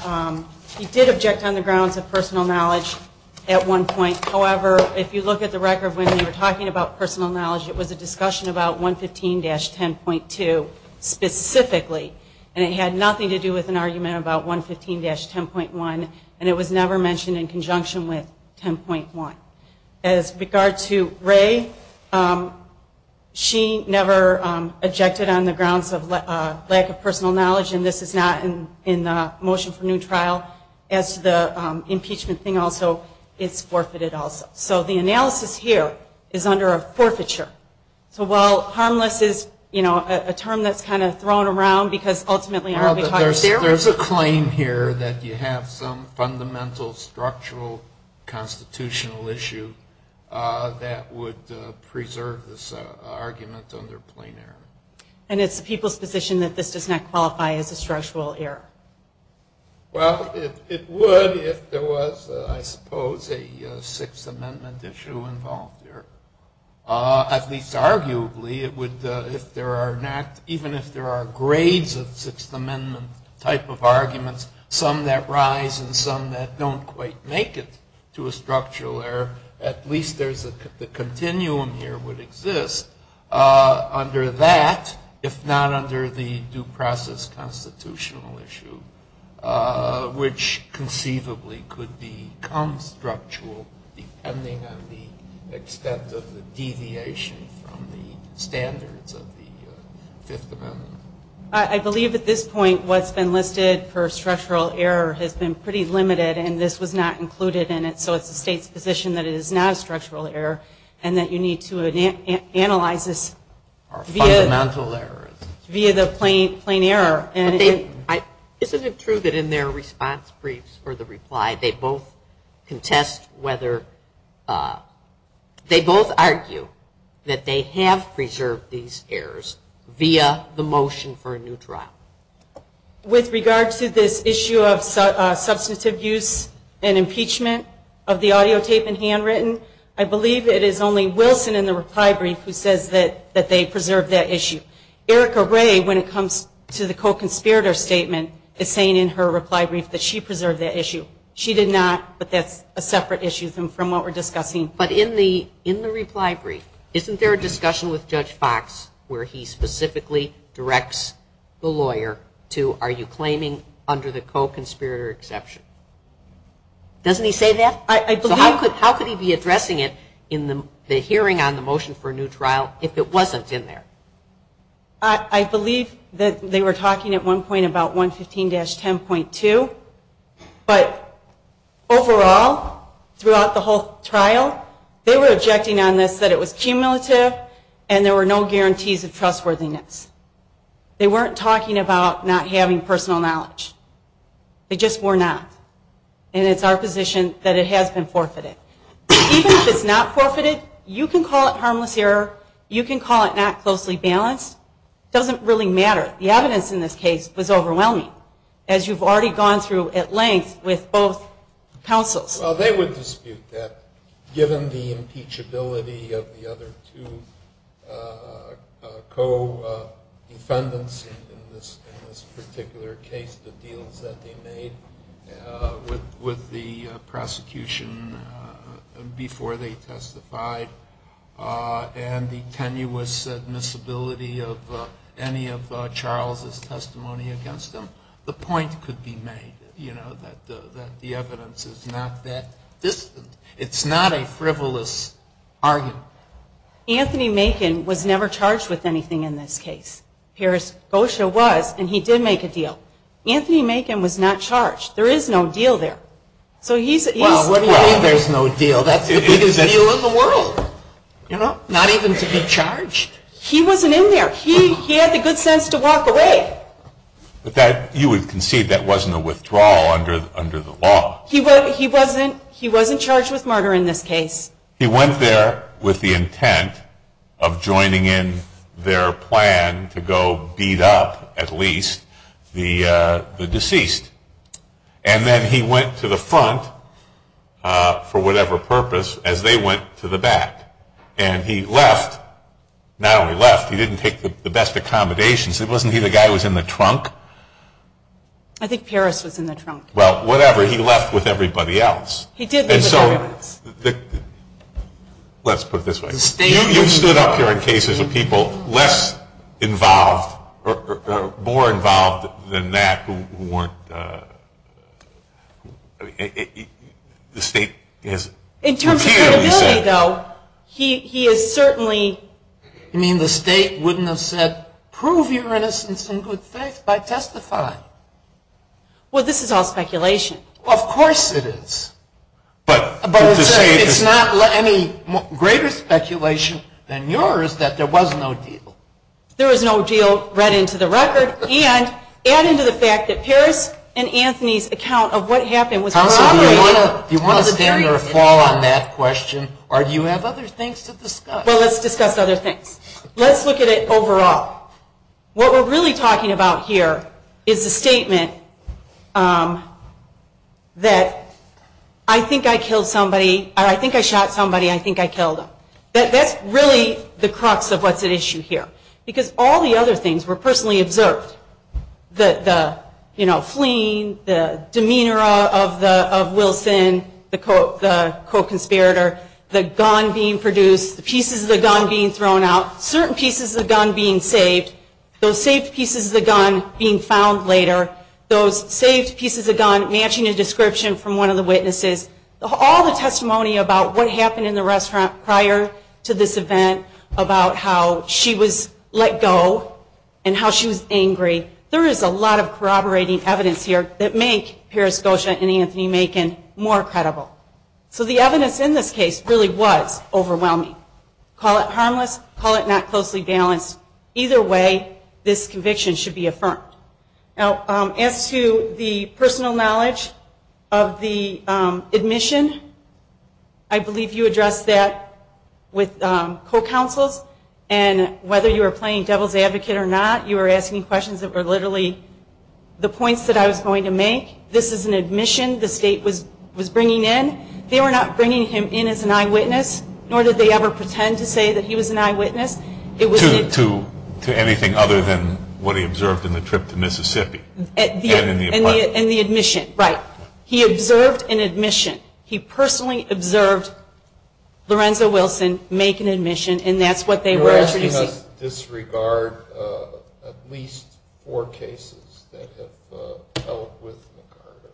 he did object on the grounds of personal knowledge at one point. However, if you look at the record when we were talking about personal knowledge, it was a discussion about 115-10.2 specifically. And it had nothing to do with an argument about 115-10.1. And it was never mentioned in conjunction with 10.1. As regards to Ray, she never objected on the grounds of lack of personal knowledge, and this is not in the motion for new trial. As to the impeachment thing also, it's forfeited also. So the analysis here is under a forfeiture. So while harmless is, you know, a term that's kind of thrown around because ultimately, there's a claim here that you have some fundamental structural constitutional issue that would preserve this argument under plain error. And it's the people's position that this does not qualify as a structural error. Well, it would if there was, I suppose, a Sixth Amendment issue involved there. At least arguably, even if there are grades of Sixth Amendment type of arguments, some that rise and some that don't quite make it to a structural error, at least the continuum here would exist under that, if not under the due process constitutional issue, which conceivably could be constructual, depending on the extent of the deviation from the standards of the Fifth Amendment. I believe at this point, what's been listed for structural error has been pretty limited, and this was not included in it. So it's the state's position that it is not a structural error, and that you need to analyze this via the plain error. Isn't it true that in their response briefs for the reply, they both argue that they have preserved these errors via the motion for a new trial? With regard to this issue of substance abuse and impeachment of the audio tape and handwritten, I believe it is only Wilson in the reply brief who says that they preserved that issue. Erica Ray, when it comes to the co-conspirator statement, is saying in her reply brief that she preserved that issue. She did not, but that's a separate issue from what we're discussing. But in the reply brief, isn't there a discussion with Judge Fox where he specifically directs the lawyer to, are you claiming under the co-conspirator exception? Doesn't he say that? How could he be addressing it in the hearing on the motion for a new trial if it wasn't in there? I believe that they were talking at one point about 115-10.2, but overall, throughout the whole trial, they were objecting on this that it was cumulative and there were no guarantees of trustworthiness. They weren't talking about not having personal knowledge. It gets worn out, and it's our position that it has been forfeited. Even if it's not forfeited, you can call it harmless error. You can call it not closely balanced. It doesn't really matter. The evidence in this case was overwhelming, as you've already gone through at length with both counsels. They would dispute that, given the impeachability of the other two co-defendants in this particular case, the deals that they made with the prosecution before they testified, and the tenuous admissibility of any of Charles' testimony against them. The point could be made that the evidence is not that distant. It's not a frivolous argument. Anthony Macon was never charged with anything in this case. OSHA was, and he did make a deal. Anthony Macon was not charged. There is no deal there. Well, it doesn't mean there's no deal. That's the biggest deal in the world. Not even to get charged. He wasn't in there. He had the good sense to walk away. You would concede that wasn't a withdrawal under the law. He wasn't charged with murder in this case. He went there with the intent of joining in their plan to go beat up, at least, the deceased. And then he went to the front, for whatever purpose, as they went to the back. And he left. Not only left, he didn't take the best accommodations. Wasn't he the guy who was in the trunk? I think Paris was in the trunk. Well, whatever. He left with everybody else. And so, let's put it this way. You stood up there in cases with people less involved, or more involved than that, who weren't... In terms of credibility, though, he is certainly... You mean the state wouldn't have said, prove your innocence in good faith by testifying? Well, this is all speculation. Well, of course it is. But it's not any greater speculation than yours that there was no deal. There was no deal read into the record. And add into the fact that Paris and Anthony's account of what happened was... Do you want to dig in or fall on that question? Or do you have other things to discuss? Well, let's discuss other things. Let's look at it overall. What we're really talking about here is the statement that, I think I killed somebody, or I think I shot somebody, I think I killed them. That's really the crux of what's at issue here. Because all the other things were personally observed. The fleeing, the demeanor of Wilson, the co-conspirator, the gun being produced, the pieces of the gun being thrown out, certain pieces of the gun being saved, those saved pieces of the gun being found later, those saved pieces of gun matching a description from one of the witnesses, all the testimony about what happened in the restaurant prior to this event, about how she was let go, and how she was angry. There is a lot of corroborating evidence here that make Paris Gosha and Anthony Macon more credible. So the evidence in this case really was overwhelming. Call it harmless, call it not closely balanced. Either way, this conviction should be affirmed. Now, as to the personal knowledge of the admission, I believe you addressed that with co-counsel, and whether you were playing devil's advocate or not, you were asking questions that were literally the points that I was going to make. This is an admission the state was bringing in. They were not bringing him in as an eyewitness, nor did they ever pretend to say that he was an eyewitness. To anything other than what he observed in the trip to Mississippi. And the admission, right. He observed an admission. He personally observed Lorenzo Wilson make an admission, You're asking us to disregard at least four cases that have dealt with McCarter.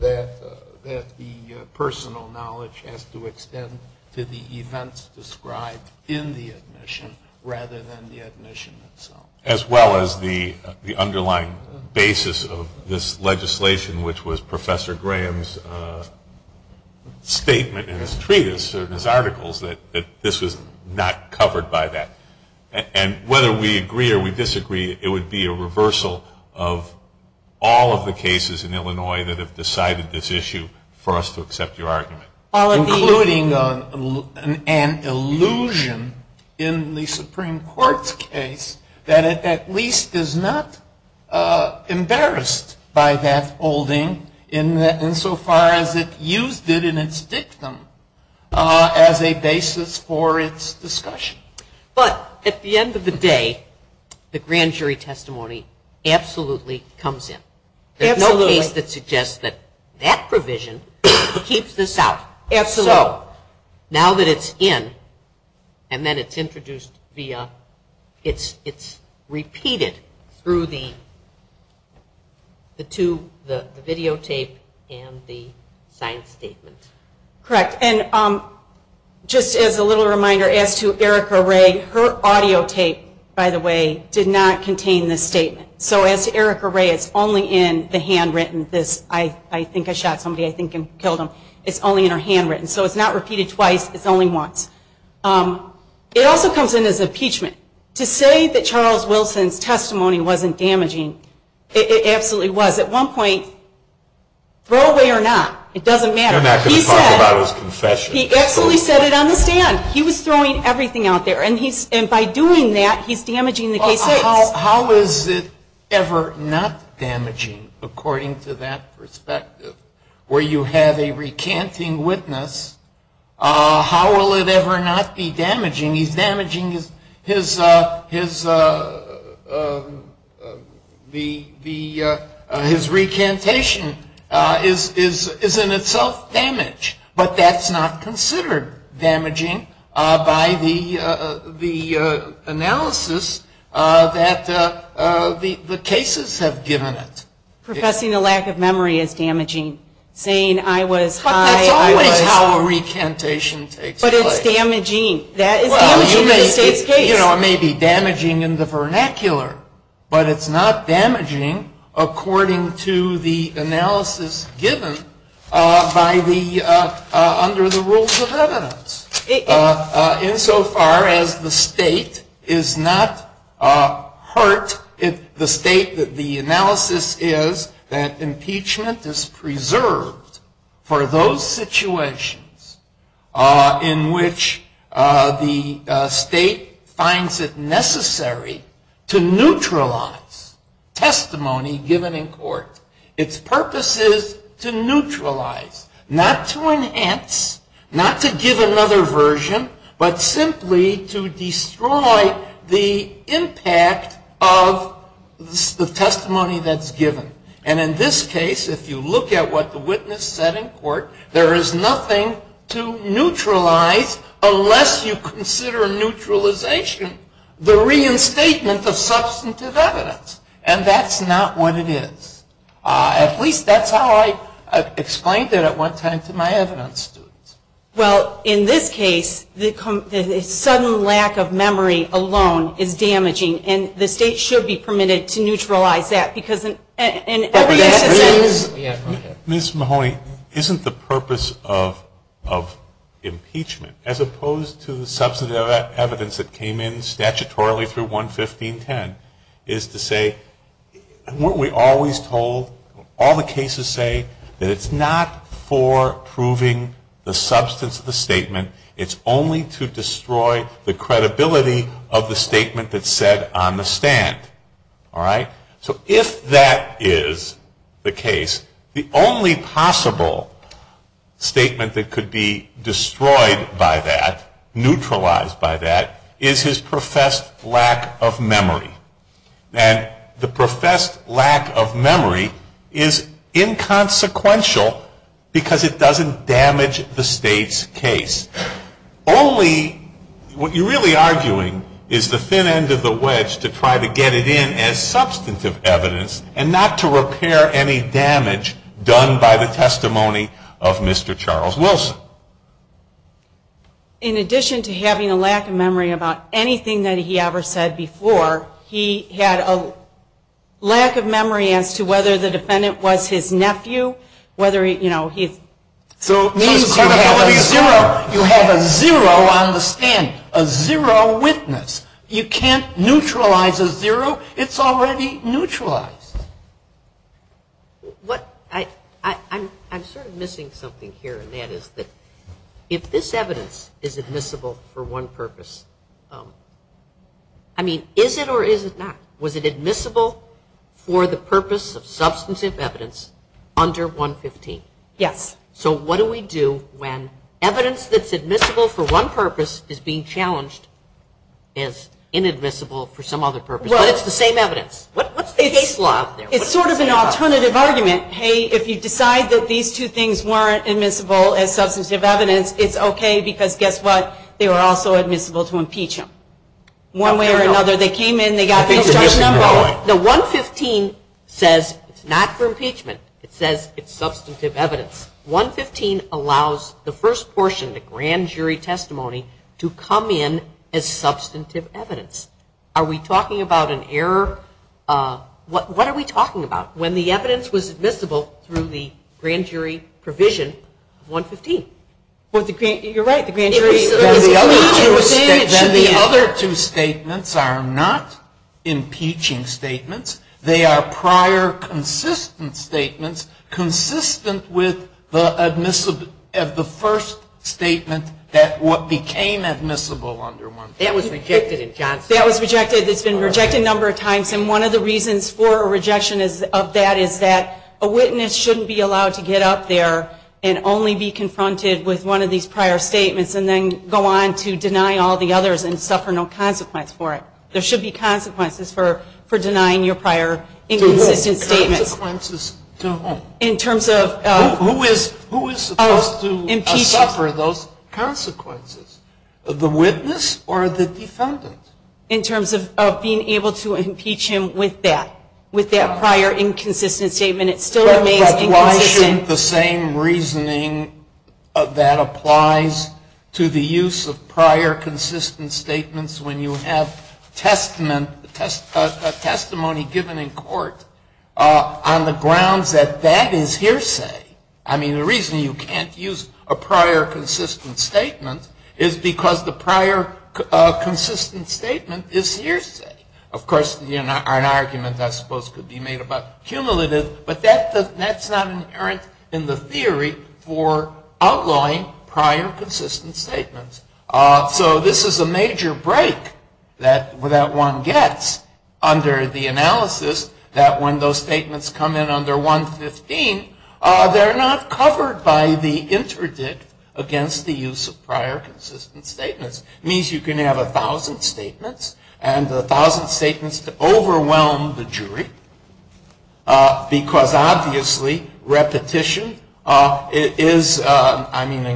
That the personal knowledge has to extend to the events described in the admission, rather than the admission itself. As well as the underlying basis of this legislation, which was Professor Graham's statement in his treatise, or in his articles, that this was not covered by that. And whether we agree or we disagree, it would be a reversal of all of the cases in Illinois that have decided this issue, for us to accept your argument. Including an illusion in the Supreme Court's case, that it at least is not embarrassed by that holding, insofar as it used it in its dictum as a basis for its discussion. But at the end of the day, the grand jury testimony absolutely comes in. There's no case that suggests that that provision, it keeps this out. So, now that it's in, and then it's introduced via, it's repeated through the videotape and the signed statement. Correct. And just as a little reminder, as to Erica Ray, her audio tape, by the way, did not contain this statement. So as to Erica Ray, it's only in the handwritten, I think I shot somebody, I think I killed him. It's only in her handwritten. So it's not repeated twice, it's only once. It also comes in as impeachment. To say that Charles Wilson's testimony wasn't damaging, it absolutely was. At one point, throw away or not, it doesn't matter. I'm not going to talk about his confession. He absolutely said it on the stand. He was throwing everything out there. And by doing that, he's damaging the case. How is it ever not damaging, according to that perspective? Where you have a recanting witness, how will it ever not be damaging? His recantation is in itself damaged, but that's not considered damaging by the analysis that the cases have given it. Professing a lack of memory is damaging. Saying I was high, I was low. That's not how a recantation takes place. But it's damaging. That is damaging in this case. It may be damaging in the vernacular, but it's not damaging according to the analysis given under the rules of evidence. Insofar as the state is not hurt, the state that the analysis is that impeachment is preserved for those situations in which the state finds it necessary to neutralize testimony given in court. Its purpose is to neutralize, not to enhance, not to give another version, but simply to destroy the impact of the testimony that's given. And in this case, if you look at what the witness said in court, there is nothing to neutralize unless you consider neutralization the reinstatement of substantive evidence. And that's not what it is. At least that's how I explained it at one time to my evidence students. Well, in this case, the sudden lack of memory alone is damaging, and the state should be permitted to neutralize that. Ms. Mahoney, isn't the purpose of impeachment, as opposed to the substantive evidence that came in statutorily through 11510, is to say, weren't we always told, all the cases say, that it's not for proving the substance of the statement. It's only to destroy the credibility of the statement that's said on the stand. So if that is the case, the only possible statement that could be destroyed by that, neutralized by that, is his professed lack of memory. And the professed lack of memory is inconsequential because it doesn't damage the state's case. Only, what you're really arguing, is the thin end of the wedge to try to get it in as substantive evidence, and not to repair any damage done by the testimony of Mr. Charles Wilson. In addition to having a lack of memory about anything that he ever said before, he had a lack of memory as to whether the defendant was his nephew, whether he, you know, he... You have a zero on the stand, a zero witness. You can't neutralize a zero. It's already neutralized. I'm sort of missing something here, and that is that if this evidence is admissible for one purpose, I mean, is it or is it not? Was it admissible for the purpose of substantive evidence under 115? Yes. So what do we do when evidence that's admissible for one purpose is being challenged as inadmissible for some other purpose, but it's the same evidence? What's the case law out there? It's sort of an alternative argument. Hey, if you decide that these two things weren't admissible as substantive evidence, it's okay because guess what? They were also admissible to impeach him. One way or another, they came in, they got... The 115 says it's not for impeachment. It says it's substantive evidence. 115 allows the first portion, the grand jury testimony, to come in as substantive evidence. Are we talking about an error? What are we talking about? When the evidence was admissible through the grand jury provision, 115. You're right. The other two statements are not impeaching statements. They are prior consistent statements, consistent with the first statement that what became admissible under 115. That was rejected at Johnson. That was rejected. It's been rejected a number of times. One of the reasons for a rejection of that is that a witness shouldn't be allowed to get up there and only be confronted with one of these prior statements and then go on to deny all the others and suffer no consequence for it. There should be consequences for denying your prior independent statement. Who is supposed to suffer those consequences? The witness or the defendant? In terms of being able to impeach him with that, with that prior inconsistent statement, it still remains inconsistent. That's why I think the same reasoning that applies to the use of prior consistent statements when you have testimony given in court on the grounds that that is hearsay. I mean, the reason you can't use a prior consistent statement is because the prior consistent statement is hearsay. Of course, an argument, I suppose, could be made about cumulative, but that's not inherent in the theory for outlawing prior consistent statements. So this is a major break that one gets under the analysis that when those statements come in under 115, they're not covered by the interdict against the use of prior consistent statements. It means you can have a thousand statements and a thousand statements to overwhelm the jury because, obviously, repetition is, I mean,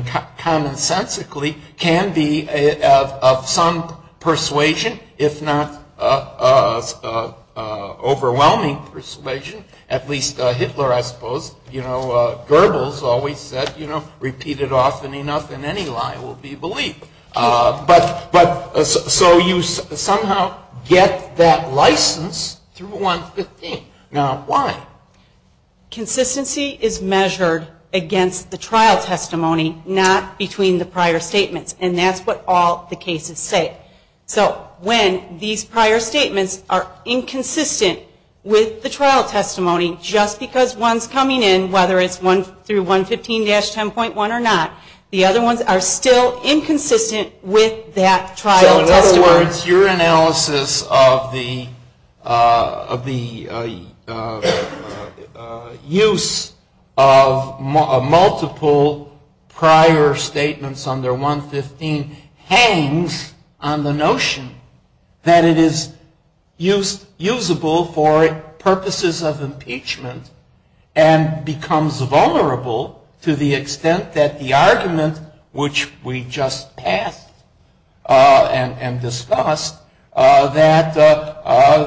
Hitler, I suppose, you know, Goebbels always said, you know, repeated often enough in any line will be belief. But so you somehow get that license through 115. Now, why? Consistency is measured against the trial testimony, not between the prior statements, and that's what all the cases say. So when these prior statements are inconsistent with the trial testimony, just because one's coming in, whether it's through 115-10.1 or not, the other ones are still inconsistent with that trial testimony. In other words, your analysis of the use of multiple prior statements under 115 hangs on the notion that it is usable for purposes of impeachment and becomes vulnerable to the extent that the argument which we just had and discussed, that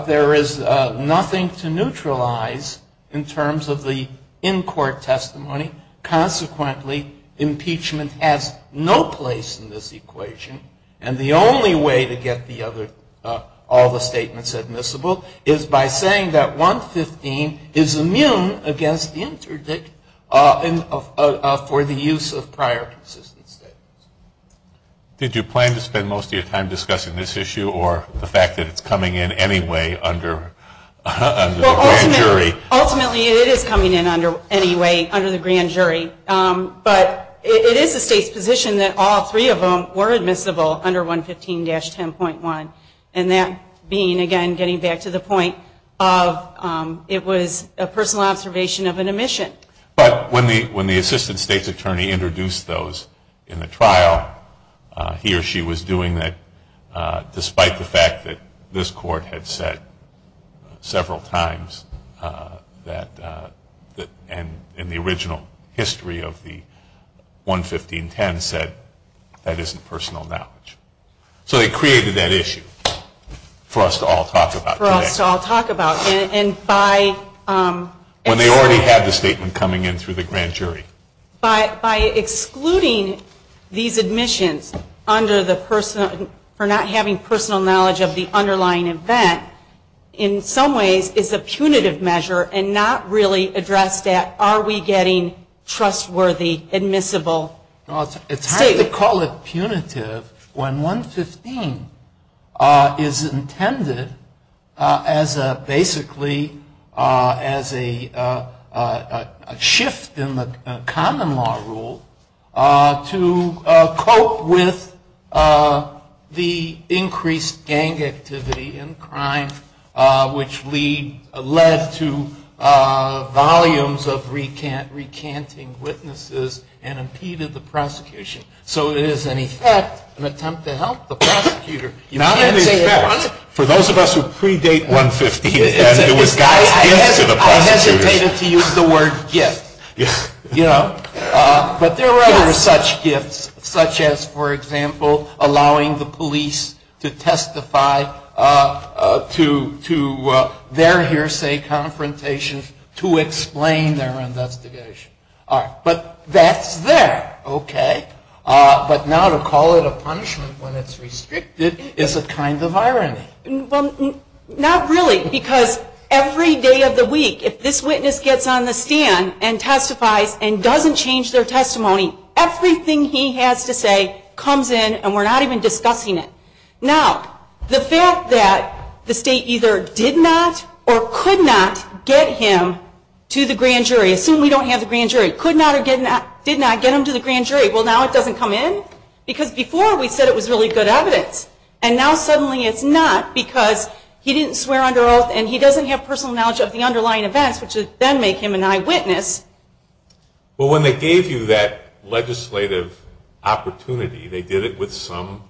there is nothing to neutralize in terms of the in-court testimony. Consequently, impeachment has no place in this equation, and the only way to get the other, all the statements admissible, is by saying that 115 is immune against the interdict for the use of prior insistence statements. Did you plan to spend most of your time discussing this issue or the fact that it's coming in anyway under the grand jury? Ultimately, it is coming in anyway under the grand jury, but it is the state's position that all three of them were admissible under 115-10.1, and that being, again, getting back to the point of it was a personal observation of an omission. But when the assistant state's attorney introduced those in the trial, he or she was doing that despite the fact that this court had said several times that in the original history of the 115-10 said that isn't personal knowledge. So they created that issue for us to all talk about. For us to all talk about, and by... And they already have the statement coming in through the grand jury. But by excluding these admissions under the personal, for not having personal knowledge of the underlying event, in some ways it's a punitive measure and not really address that, are we getting trustworthy, admissible statements. It's hard to call it punitive when one's sustained is intended as basically a shift in the common law rule to cope with the increased gang activity and crime, which led to volumes of recanting witnesses and impeded the prosecution. So it is, in effect, an attempt to help the prosecutor. Not in effect. For those of us who predate 115-10, it was a gift to the prosecutor. I imagine they just used the word gift. But there were other such gifts, such as, for example, allowing the police to testify to their hearsay confrontations to explain their investigation. But that's there. But now to call it a punishment when it's restricted is a kind of irony. Not really, because every day of the week, if this witness gets on the stand and testifies and doesn't change their testimony, everything he has to say comes in and we're not even discussing it. Now, the fact that the state either did not or could not get him to the grand jury. Assume we don't have the grand jury. Could not or did not get him to the grand jury. Well, now it doesn't come in? Because before we said it was really good evidence. And now suddenly it's not because he didn't swear under oath and he doesn't have personal knowledge of the underlying events, which then make him an eyewitness. But when they gave you that legislative opportunity, they did it with some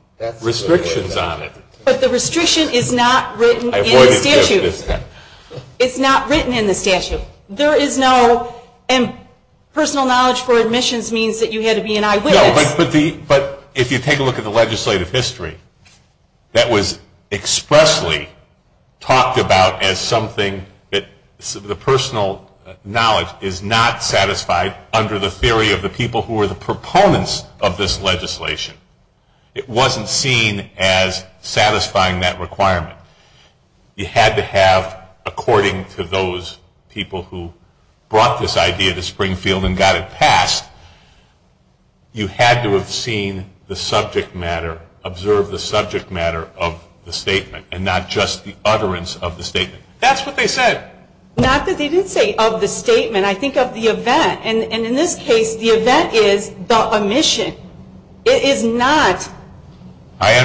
restrictions on it. But the restriction is not written in the statute. It's not written in the statute. But if you take a look at the legislative history, that was expressly talked about as something that the personal knowledge is not satisfied under the theory of the people who were the proponents of this legislation. It wasn't seen as satisfying that requirement. You had to have, according to those people who brought this idea to Springfield and got it passed, you had to have seen the subject matter, observed the subject matter of the statement and not just the utterance of the statement. That's what they said. Not that they didn't say of the statement. I think of the event. And in this case, the event is the omission. It is not an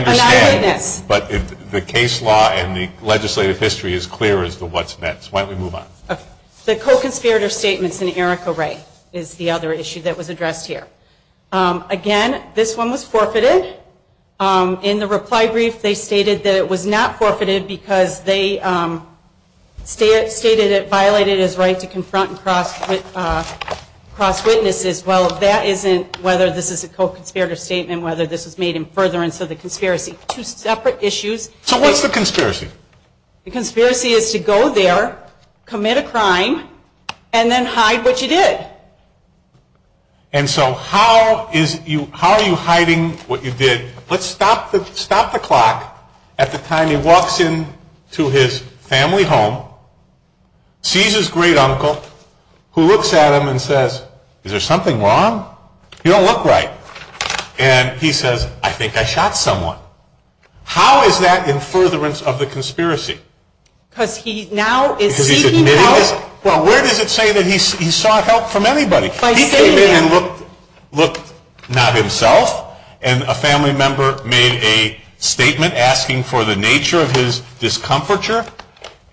eyewitness. I understand. But the case law and the legislative history is clear as to what's meant. So why don't we move on? The co-conspirator statement in Erica Ray is the other issue that was addressed here. Again, this one was forfeited. In the reply brief, they stated that it was not forfeited because they stated it violated his right to confront and cross witnesses. Well, that isn't whether this is a co-conspirator statement, whether this is made in furtherance of the conspiracy. Two separate issues. So what's the conspiracy? The conspiracy is to go there, commit a crime, and then hide what you did. And so how are you hiding what you did? Let's stop the clock at the time he walks into his family home, sees his great uncle, who looks at him and says, is there something wrong? You don't look right. And he says, I think I shot someone. How is that in furtherance of the conspiracy? Because he now is seeking help. Well, where does it say that he sought help from everybody? He came in and looked not himself, and a family member made a statement asking for the nature of his discomfiture,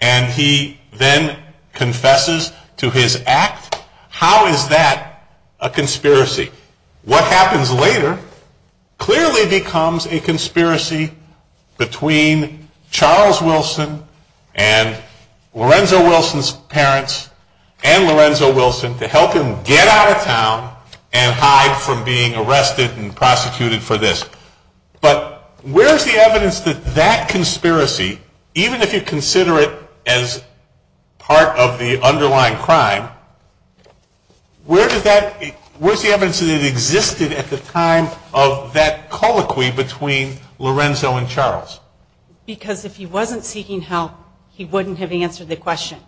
and he then confesses to his act. How is that a conspiracy? What happens later clearly becomes a conspiracy between Charles Wilson and Lorenzo Wilson's parents and Lorenzo Wilson to help him get out of town and hide from being arrested and prosecuted for this. But where's the evidence that that conspiracy, even if you consider it as part of the underlying crime, where's the evidence that it existed at the time of that colloquy between Lorenzo and Charles? Because if he wasn't seeking help, he wouldn't have answered the question.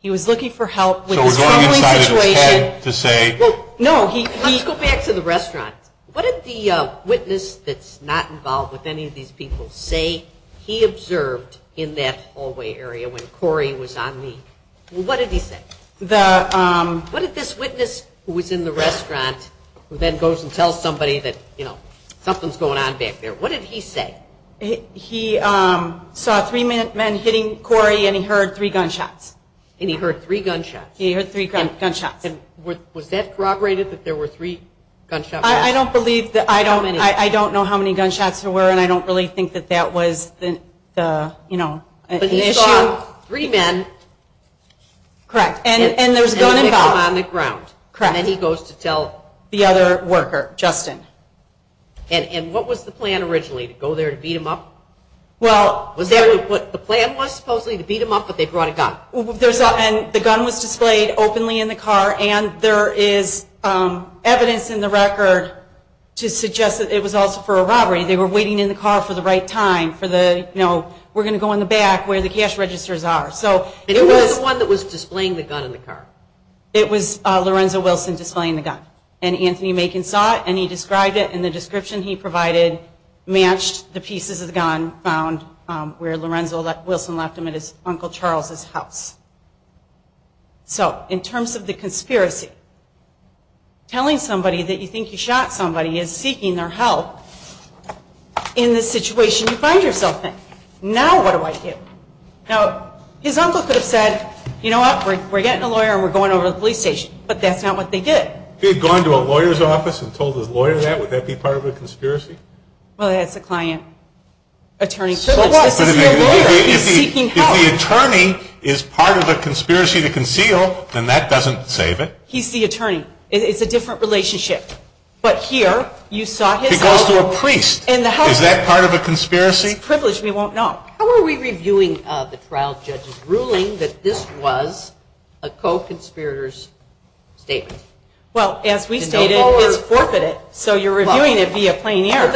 He was looking for help. So we're going inside his home to say. No, let's go back to the restaurant. What did the witness that's not involved with any of these people say he observed in that hallway area when Corey was on leave? What did he say? What did this witness who was in the restaurant, who then goes and tells somebody that something's going on back there, what did he say? He saw three men hitting Corey, and he heard three gunshots. And he heard three gunshots. He heard three gunshots. Was that corroborated that there were three gunshots? I don't know how many gunshots there were, and I don't really think that that was an issue. He saw three men. Correct. And there was a gun in the car. Correct. And he goes to tell the other worker, Justin. And what was the plan originally, to go there and beat him up? Well, the plan was supposedly to beat him up, but they brought a gun. And the gun was displayed openly in the car, and there is evidence in the record to suggest that it was also for a robbery. They were waiting in the car for the right time for the, you know, we're going to go in the back where the cash registers are. So it was the one that was displaying the gun in the car. It was Lorenzo Wilson displaying the gun. And Anthony Macon saw it, and he described it in the description he provided, matched the pieces of the gun, found where Lorenzo Wilson left them at his Uncle Charles' house. So in terms of the conspiracy, telling somebody that you think you shot somebody is seeking their help in the situation you find yourself in. Now what do I do? Now, his uncle could have said, you know what, we're getting a lawyer and we're going over to the police station. But that's not what they did. He had gone to a lawyer's office and told the lawyer that? Would that be part of a conspiracy? Well, that's the client's attorney's business. So what? If the attorney is part of the conspiracy to conceal, then that doesn't save it. He's the attorney. It's a different relationship. He goes to a priest. Is that part of a conspiracy? Privilege we won't know. How are we reviewing the trial judge's ruling that this was a co-conspirator's statement? Well, as we know, so you're reviewing it via plain error.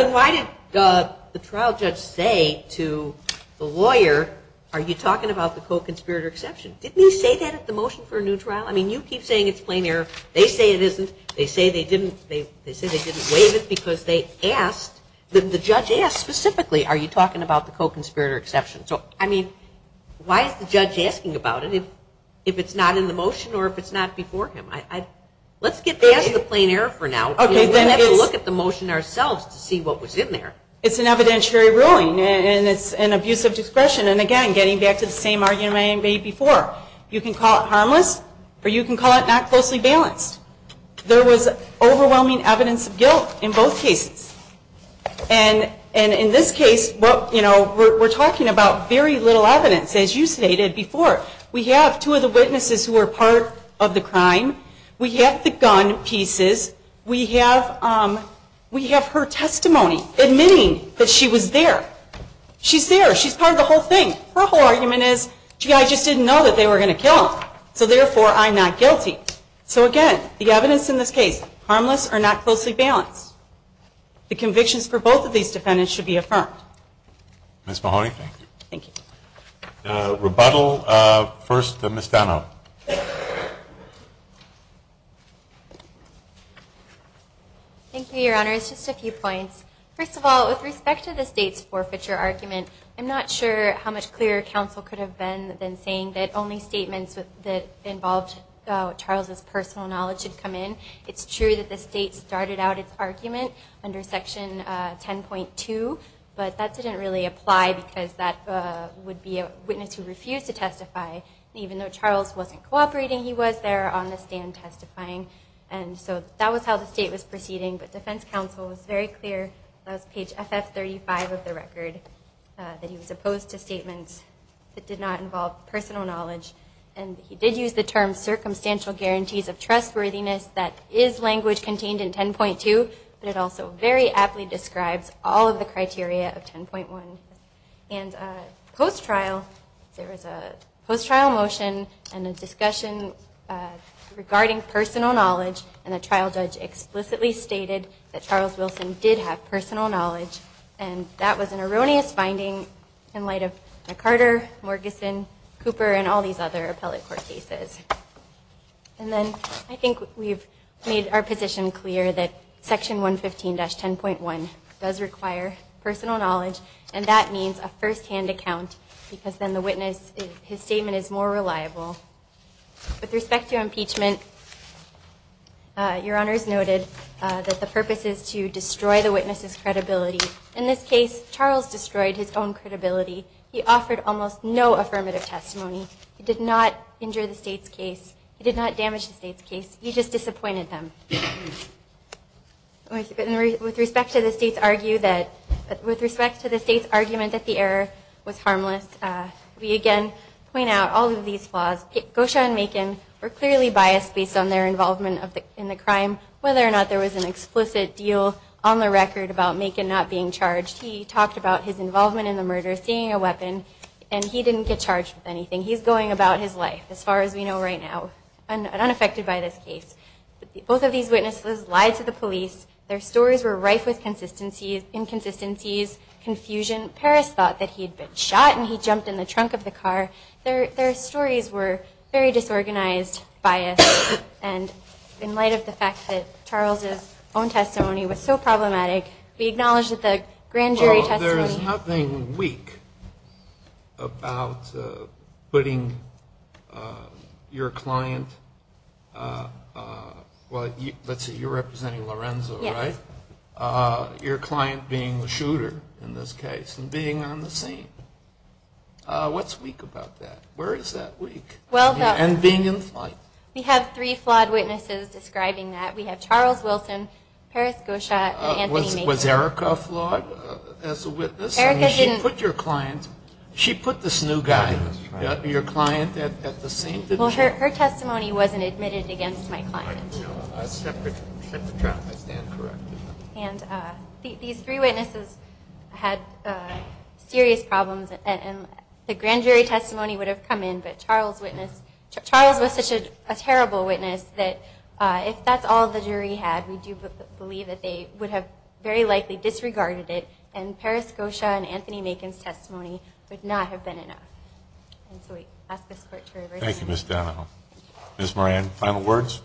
The trial judge say to the lawyer, are you talking about the co-conspirator exception? Didn't you say that at the motion for a new trial? I mean, you keep saying it's plain error. They say it isn't. They say they didn't waive it because they asked, the judge asked specifically, are you talking about the co-conspirator exception? So, I mean, why is the judge asking about it if it's not in the motion or if it's not before him? Let's get back to the plain error for now. We'll have to look at the motion ourselves to see what was in there. It's an evidentiary ruling. And it's an abuse of discretion. And again, getting back to the same argument I made before, you can call it harmless, or you can call it not closely balanced. There was overwhelming evidence of guilt in both cases. And in this case, we're talking about very little evidence, as you stated before. We have two of the witnesses who were part of the crime. We have the gun pieces. We have her testimony, admitting that she was there. She's there. She's part of the whole thing. Her whole argument is, gee, I just didn't know that they were going to kill him. So, therefore, I'm not guilty. So, again, the evidence in this case, harmless or not closely balanced. The convictions for both of these defendants should be affirmed. Ms. Mahoney? Thank you. Rebuttal. First, Ms. Benow. Thank you, Your Honor. Just a few points. First of all, with respect to the state's forfeiture argument, I'm not sure how much clearer counsel could have been than saying that only statements that involved Charles' personal knowledge should come in. It's true that the state started out its argument under Section 10.2, but that didn't really apply because that would be a witness who refused to testify, even though Charles wasn't cooperating. He was there on the stand testifying. And so that was how the state was proceeding. But defense counsel was very clear. That was page SS35 of the record, that he was opposed to statements that did not involve personal knowledge. And he did use the term circumstantial guarantees of trustworthiness, that is language contained in 10.2, but it also very aptly describes all of the criteria of 10.1. And post-trial, there was a post-trial motion and a discussion regarding personal knowledge, and a trial judge explicitly stated that Charles Wilson did have personal knowledge, and that was an erroneous finding in light of Carter, Morgison, Cooper, and all these other appellate court cases. And then I think we've made our position clear that Section 115-10.1 does require personal knowledge, and that means a firsthand account With respect to impeachment, your honors noted that the purpose is to destroy the witness's credibility. In this case, Charles destroyed his own credibility. He offered almost no affirmative testimony. He did not injure the state's case. He did not damage the state's case. He just disappointed them. With respect to the state's argument that the error was harmless, we again point out all of these flaws. Gosha and Macon were clearly biased based on their involvement in the crime, whether or not there was an explicit deal on the record about Macon not being charged. He talked about his involvement in the murder, seeing a weapon, and he didn't get charged with anything. He's going about his life, as far as we know right now, unaffected by this case. Both of these witnesses lied to the police. Their stories were rife with inconsistencies, confusion. Parris thought that he'd been shot, and he jumped in the trunk of the car. Their stories were very disorganized, biased, and in light of the fact that Charles's own testimony was so problematic, we acknowledge that the grand jury testimony... Well, there is nothing weak about putting your client... Well, let's say you're representing Lorenzo, right? Yes. Your client being the shooter in this case and being on the scene. What's weak about that? Where is that weak? And being in flight. We have three flawed witnesses describing that. We have Charles Wilson, Parris Goschott, and Anthony Mason. Was Erica a flawed witness? She put your client... She put this new guy, your client, at the same... Well, her testimony wasn't admitted against my client. That's correct. And these three witnesses had serious problems, and the grand jury testimony would have come in, but Charles was such a terrible witness that if that's all the jury had, we do believe that they would have very likely disregarded it, and Parris Goschott and Anthony Mason's testimony would not have been enough. And so that's this court jury version. Thank you, Ms. Donahoe. Ms. Moran, final words?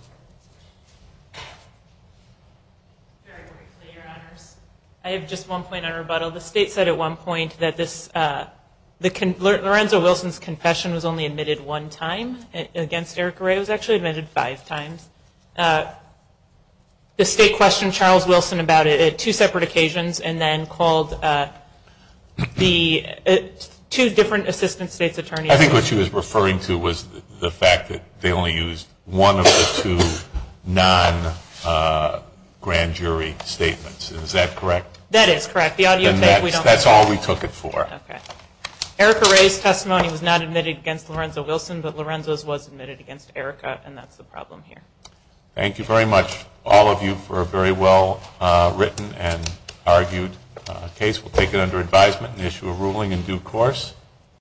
I have just one point on rebuttal. The state said at one point that Lorenzo Wilson's confession was only admitted one time against Erica Ray. It was actually admitted five times. The state questioned Charles Wilson about it at two separate occasions and then called two different assistant state's attorneys. I think what she was referring to was the fact that they only used one of the two non-grand jury statements. Is that correct? That is correct. That's all we took it for. Erica Ray's testimony was not admitted against Lorenzo Wilson, but Lorenzo's was admitted against Erica, and that's the problem here. Thank you very much, all of you, for a very well-written and argued case. We'll take it under advisement and issue a ruling in due course.